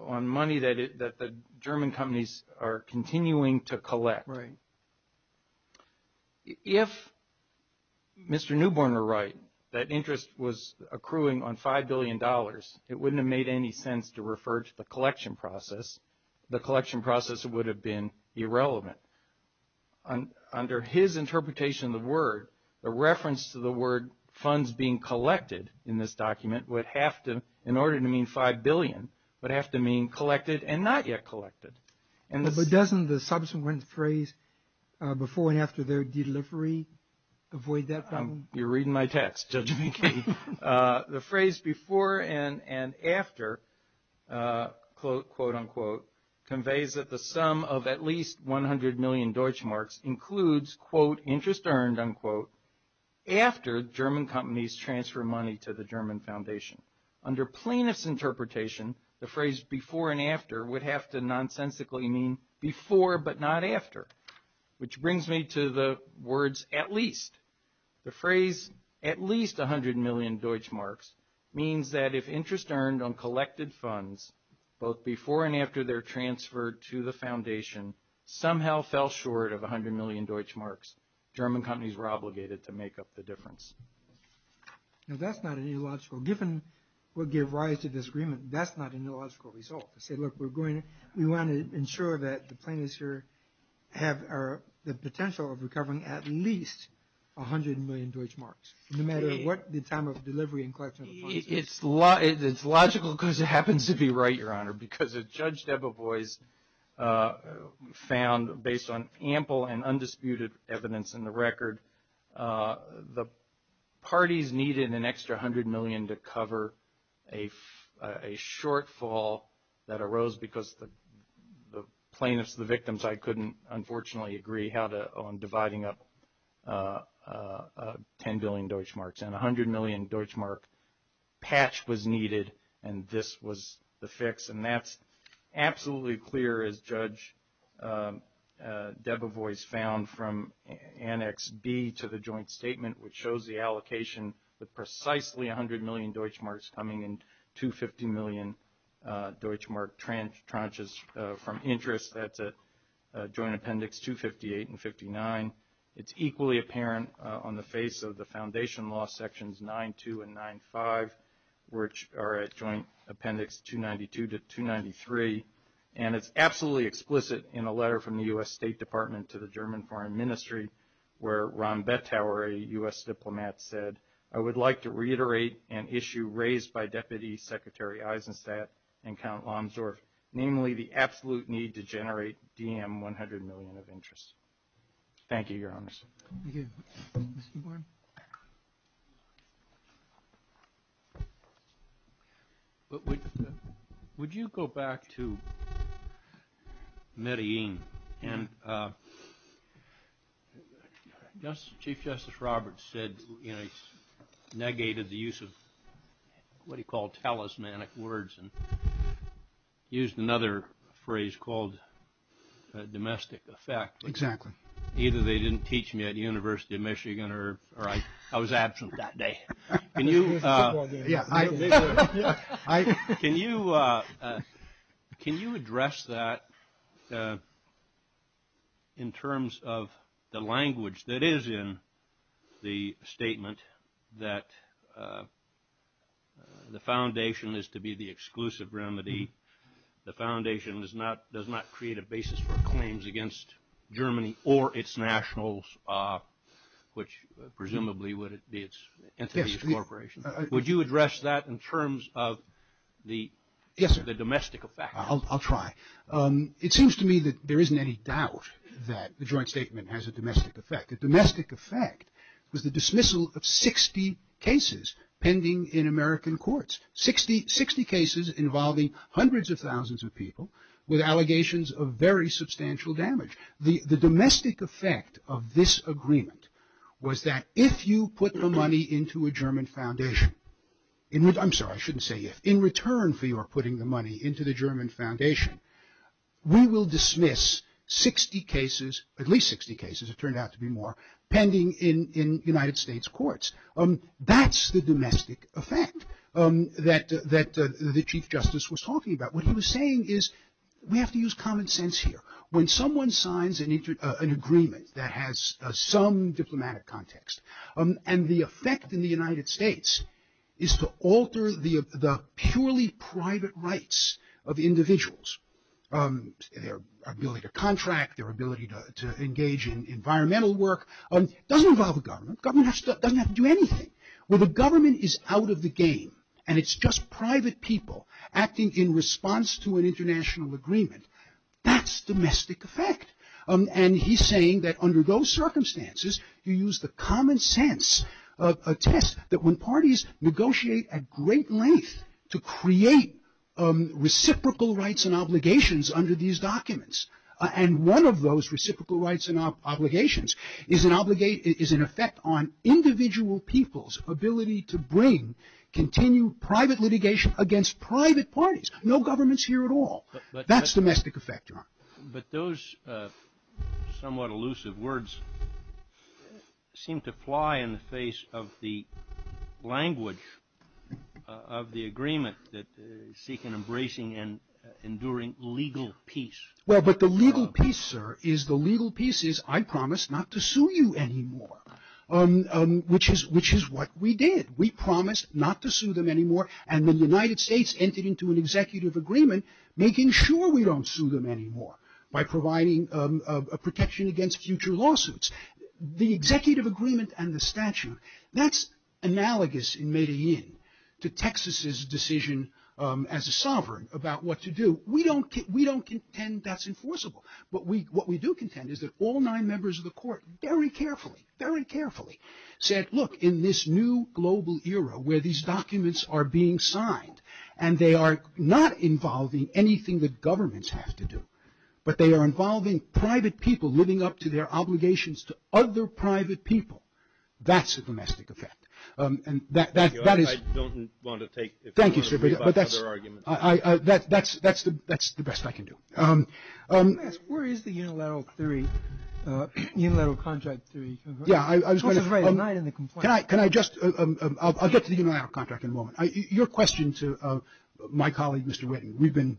on money that the German companies are continuing to collect. Right. If Mr. Newborn were right, that interest was accruing on $5 billion, it wouldn't have made any sense to refer to the collection process. The collection process would have been irrelevant. Under his interpretation of the word, the reference to the word funds being collected in this document would have to, in order to mean $5 billion, would have to mean collected and not yet collected. But doesn't the subsequent phrase, before and after their delivery, avoid that problem? You're reading my text, Judge McKee. The phrase before and after, quote, unquote, conveys that the sum of at least 100 million Deutschmarks includes, quote, interest earned, unquote, after German companies transfer money to the German foundation. Under plaintiff's interpretation, the phrase before and after would have to nonsensically mean before but not after. Which brings me to the words at least. The phrase at least 100 million Deutschmarks means that if interest earned on collected funds, both before and after their transfer to the foundation, somehow fell short of 100 million Deutschmarks. German companies were obligated to make up the difference. Now that's not an illogical, given what gave rise to this agreement, that's not an illogical result. We want to ensure that the plaintiffs here have the potential of recovering at least 100 million Deutschmarks. No matter what the time of delivery and collection of funds is. It's logical because it happens to be right, Your Honor, because as Judge Debevoise found, based on ample and undisputed evidence in the record, the parties needed an extra 100 million to cover a shortfall that arose because the plaintiffs, the victims, I couldn't unfortunately agree on dividing up 10 billion Deutschmarks. And 100 million Deutschmark patch was needed and this was the fix. And that's absolutely clear as Judge Debevoise found from Annex B to the joint statement, which shows the allocation with precisely 100 million Deutschmarks coming in 250 million Deutschmark tranches from interest. That's a joint appendix 258 and 59. It's equally apparent on the face of the foundation law sections 9-2 and 9-5, which are at Joint Appendix 292 to 293. And it's absolutely explicit in a letter from the U.S. State Department to the German Foreign Ministry, where Ron Bettauer, a U.S. diplomat, said, I would like to reiterate an issue raised by Deputy Secretary Eisenstadt and Count Lomsdorf, namely the absolute need to generate DM 100 million of interest. Thank you, Your Honors. Would you go back to Medellin? And Chief Justice Roberts said, you know, he negated the use of what he called talismanic words and used another phrase called domestic effect. Exactly. Either they didn't teach me at University of Michigan or I was absent that day. Can you address that in terms of the language that is in the statement that the foundation is to be the exclusive remedy, the foundation does not create a basis for claims against Germany or its nationals, which presumably would be its entities, corporations. Would you address that in terms of the domestic effect? I'll try. It seems to me that there isn't any doubt that the joint statement has a domestic effect. The domestic effect was the dismissal of 60 cases pending in American courts, 60 cases involving hundreds of thousands of people with allegations of very substantial damage. The domestic effect of this agreement was that if you put the money into a German foundation, I'm sorry, I shouldn't say if, in return for your putting the money into the German foundation, we will dismiss 60 cases, at least 60 cases, it turned out to be more, pending in United States courts. That's the domestic effect that the Chief Justice was talking about. What he was saying is we have to use common sense here. When someone signs an agreement that has some diplomatic context, and the effect in the United States is to alter the purely private rights of individuals, their ability to contract, their ability to engage in environmental work, doesn't involve the government. Government doesn't have to do anything. When the government is out of the game and it's just private people acting in response to an international agreement, that's domestic effect. And he's saying that under those circumstances you use the common sense, a test that when parties negotiate at great length to create reciprocal rights and obligations under these documents, and one of those reciprocal rights and obligations is an effect on individual people's ability to bring, continue private litigation against private parties. No government's here at all. That's domestic effect, John. But those somewhat elusive words seem to fly in the face of the language of the agreement that seek an embracing and enduring legal peace. Well, but the legal peace, sir, is the legal peace is I promise not to sue you anymore, which is what we did. We promised not to sue them anymore and the United States entered into an executive agreement making sure we don't sue them anymore by providing protection against future lawsuits. The executive agreement and the statute, that's analogous in Medellin to Texas's decision as a sovereign about what to do. We don't contend that's enforceable, but what we do contend is that all nine members of the court very carefully, very carefully said, look, in this new global era where these documents are being signed and they are not involving anything that governments have to do, but they are involving private people living up to their obligations to other private people. That's a domestic effect. And that is. I don't want to take. Thank you, sir. But that's the best I can do. Where is the unilateral theory, unilateral contract theory? Yeah, I was going to write a night in the complaint. Can I just I'll get to the unilateral contract in a moment. Your question to my colleague, Mr. Whitten. We've been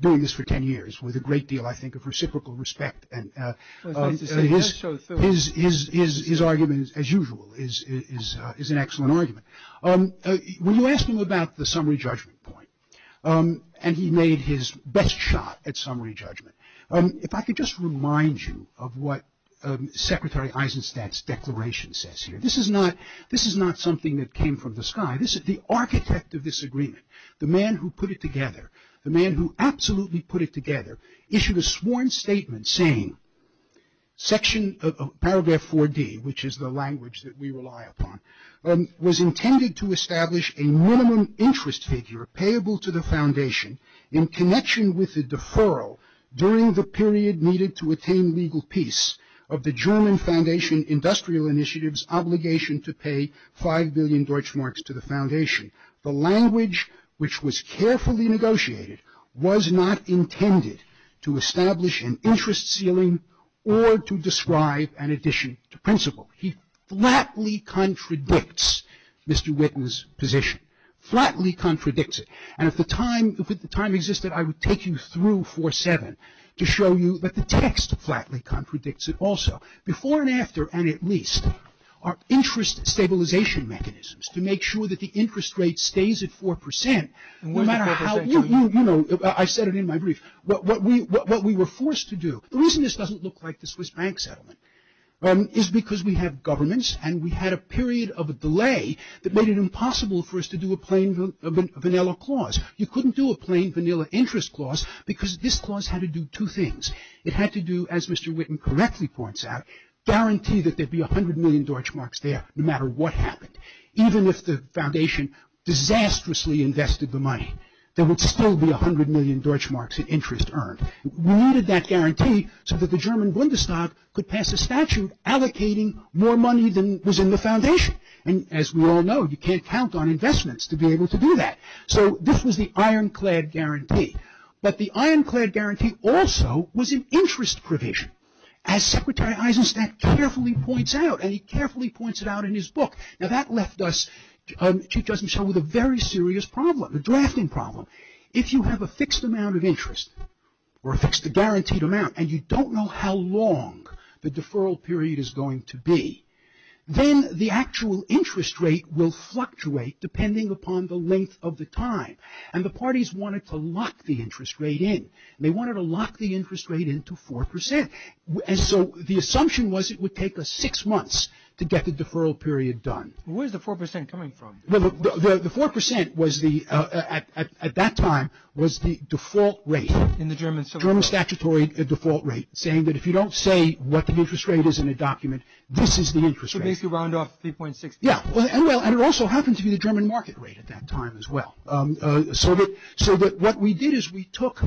doing this for 10 years with a great deal, I think, of reciprocal respect. And his argument, as usual, is an excellent argument. When you ask him about the summary judgment point and he made his best shot at summary judgment. If I could just remind you of what Secretary Eisenstat's declaration says here. This is not this is not something that came from the sky. This is the architect of this agreement. The man who put it together, the man who absolutely put it together, issued a sworn statement saying section of Paragraph 4D, which is the language that we rely upon, was intended to establish a minimum interest figure payable to the foundation in connection with the deferral during the period needed to attain legal peace of the German Foundation Industrial Initiative's obligation to pay 5 billion Deutschmarks to the foundation. The language, which was carefully negotiated, was not intended to establish an interest ceiling or to describe an addition to principle. He flatly contradicts Mr. Whitten's position. Flatly contradicts it. And if the time existed, I would take you through 4.7 to show you that the text flatly contradicts it also. Before and after, and at least, are interest stabilization mechanisms to make sure that the interest rate stays at 4%. You know, I said it in my brief. What we were forced to do. The reason this doesn't look like the Swiss bank settlement is because we have governments and we had a period of a delay that made it impossible for us to do a plain vanilla clause. You couldn't do a plain vanilla interest clause because this clause had to do two things. It had to do, as Mr. Whitten correctly points out, guarantee that there'd be 100 million Deutschmarks there, no matter what happened, even if the foundation disastrously invested the money. There would still be 100 million Deutschmarks in interest earned. We needed that guarantee so that the German Bundestag could pass a statute allocating more money than was in the foundation. And as we all know, you can't count on investments to be able to do that. So this was the ironclad guarantee. But the ironclad guarantee also was an interest provision. As Secretary Eisenstat carefully points out, and he carefully points it out in his book, now that left us, Chief Justice Michel, with a very serious problem, a drafting problem. If you have a fixed amount of interest, or a fixed, a guaranteed amount, and you don't know how long the deferral period is going to be, then the actual interest rate will fluctuate depending upon the length of the time. And the parties wanted to lock the interest rate in. They wanted to lock the interest rate in to 4%. And so the assumption was it would take us six months to get the deferral period done. Where's the 4% coming from? The 4% at that time was the default rate, the German statutory default rate, saying that if you don't say what the interest rate is in a document, this is the interest rate. So basically round off 3.6%. Yeah, and it also happened to be the German market rate at that time as well. So what we did is we took,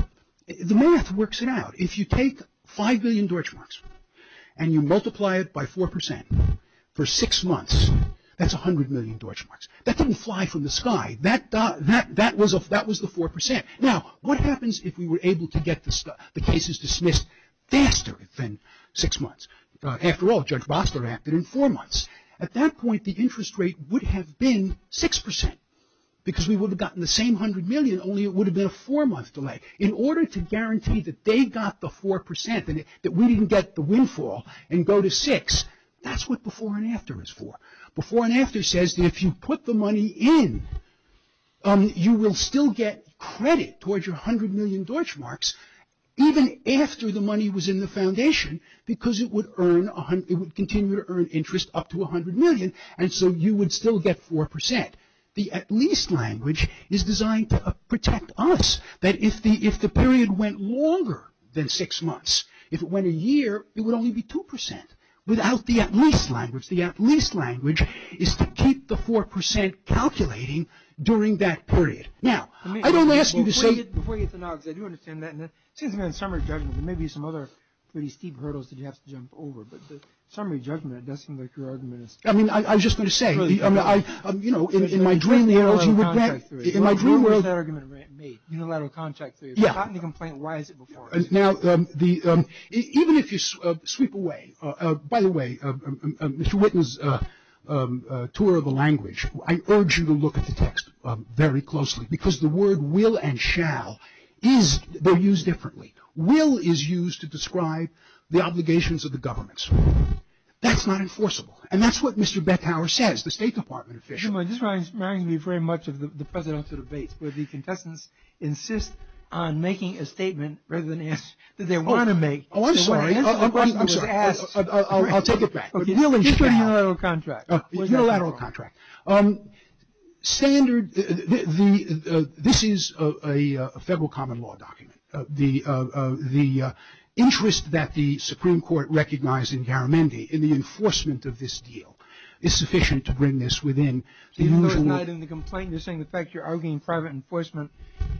the math works it out. If you take 5 million Deutschmarks and you multiply it by 4% for six months, that's 100 million Deutschmarks. That didn't fly from the sky. That was the 4%. Now, what happens if we were able to get the cases dismissed faster than six months? After all, Judge Bostler acted in four months. At that point, the interest rate would have been 6% because we would have gotten the same 100 million, only it would have been a four-month delay. In order to guarantee that they got the 4% and that we didn't get the windfall and go to 6, that's what before and after is for. Before and after says that if you put the money in, you will still get credit towards your 100 million Deutschmarks even after the money was in the foundation because it would continue to earn interest up to 100 million, and so you would still get 4%. The at-least language is designed to protect us. That if the period went longer than six months, if it went a year, it would only be 2%. Without the at-least language, the at-least language is to keep the 4% calculating during that period. Now, I don't ask you to say... Before you get to Noggs, I do understand that. It seems to me that in summary judgment, there may be some other pretty steep hurdles that you have to jump over, but in summary judgment, it does seem like your argument is... I mean, I was just going to say, you know, in my dream world... Unilateral contract theory. In my dream world... When was that argument made? Unilateral contract theory. Yeah. I've gotten the complaint, why is it before? Now, even if you sweep away... I urge you to look at the text very closely, because the word will and shall is... They're used differently. Will is used to describe the obligations of the governments. That's not enforceable. And that's what Mr. Bethauer says, the State Department official. This reminds me very much of the presidential debates, where the contestants insist on making a statement rather than ask... Oh, I'm sorry. I'll take it back. Unilateral contract. Unilateral contract. Standard... This is a federal common law document. The interest that the Supreme Court recognized in Garamendi in the enforcement of this deal is sufficient to bring this within the usual... So you're not denying the complaint, you're saying the fact you're arguing private enforcement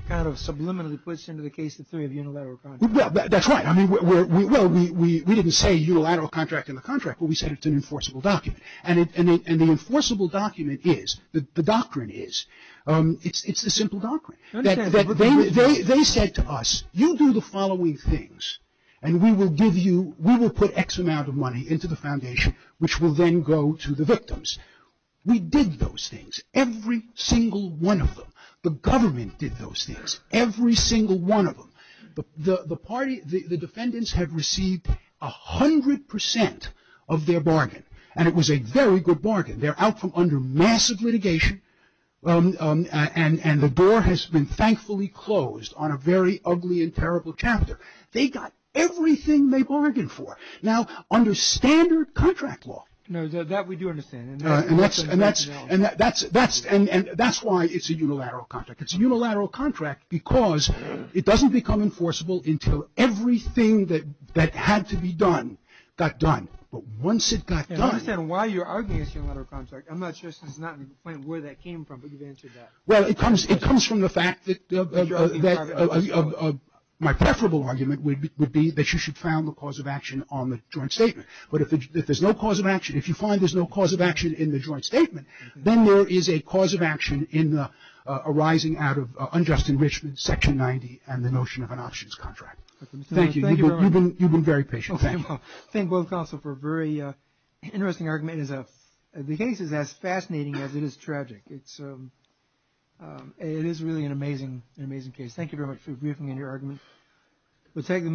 kind of subliminally puts into the case the theory of unilateral contract. Well, that's right. We didn't say unilateral contract in the contract, but we said it's an enforceable document. And the enforceable document is... The doctrine is... It's a simple doctrine. They said to us, you do the following things, and we will put X amount of money into the foundation, which will then go to the victims. We did those things. Every single one of them. The government did those things. Every single one of them. The defendants have received 100% of their bargain, and it was a very good bargain. They're out from under massive litigation, and the door has been thankfully closed on a very ugly and terrible chapter. They got everything they bargained for. Now, under standard contract law... No, that we do understand. And that's why it's a unilateral contract. It's a unilateral contract because it doesn't become enforceable until everything that had to be done got done. But once it got done... I understand why you're arguing it's a unilateral contract. I'm not sure since it's not in Flint where that came from, but you've answered that. Well, it comes from the fact that my preferable argument would be that you should found the cause of action on the joint statement. But if there's no cause of action, if you find there's no cause of action in the joint statement, then there is a cause of action arising out of unjust enrichment, Section 90, and the notion of an options contract. Thank you. You've been very patient. Thank you. Thank both counsel for a very interesting argument. The case is as fascinating as it is tragic. It is really an amazing case. Thank you very much for briefing in your argument.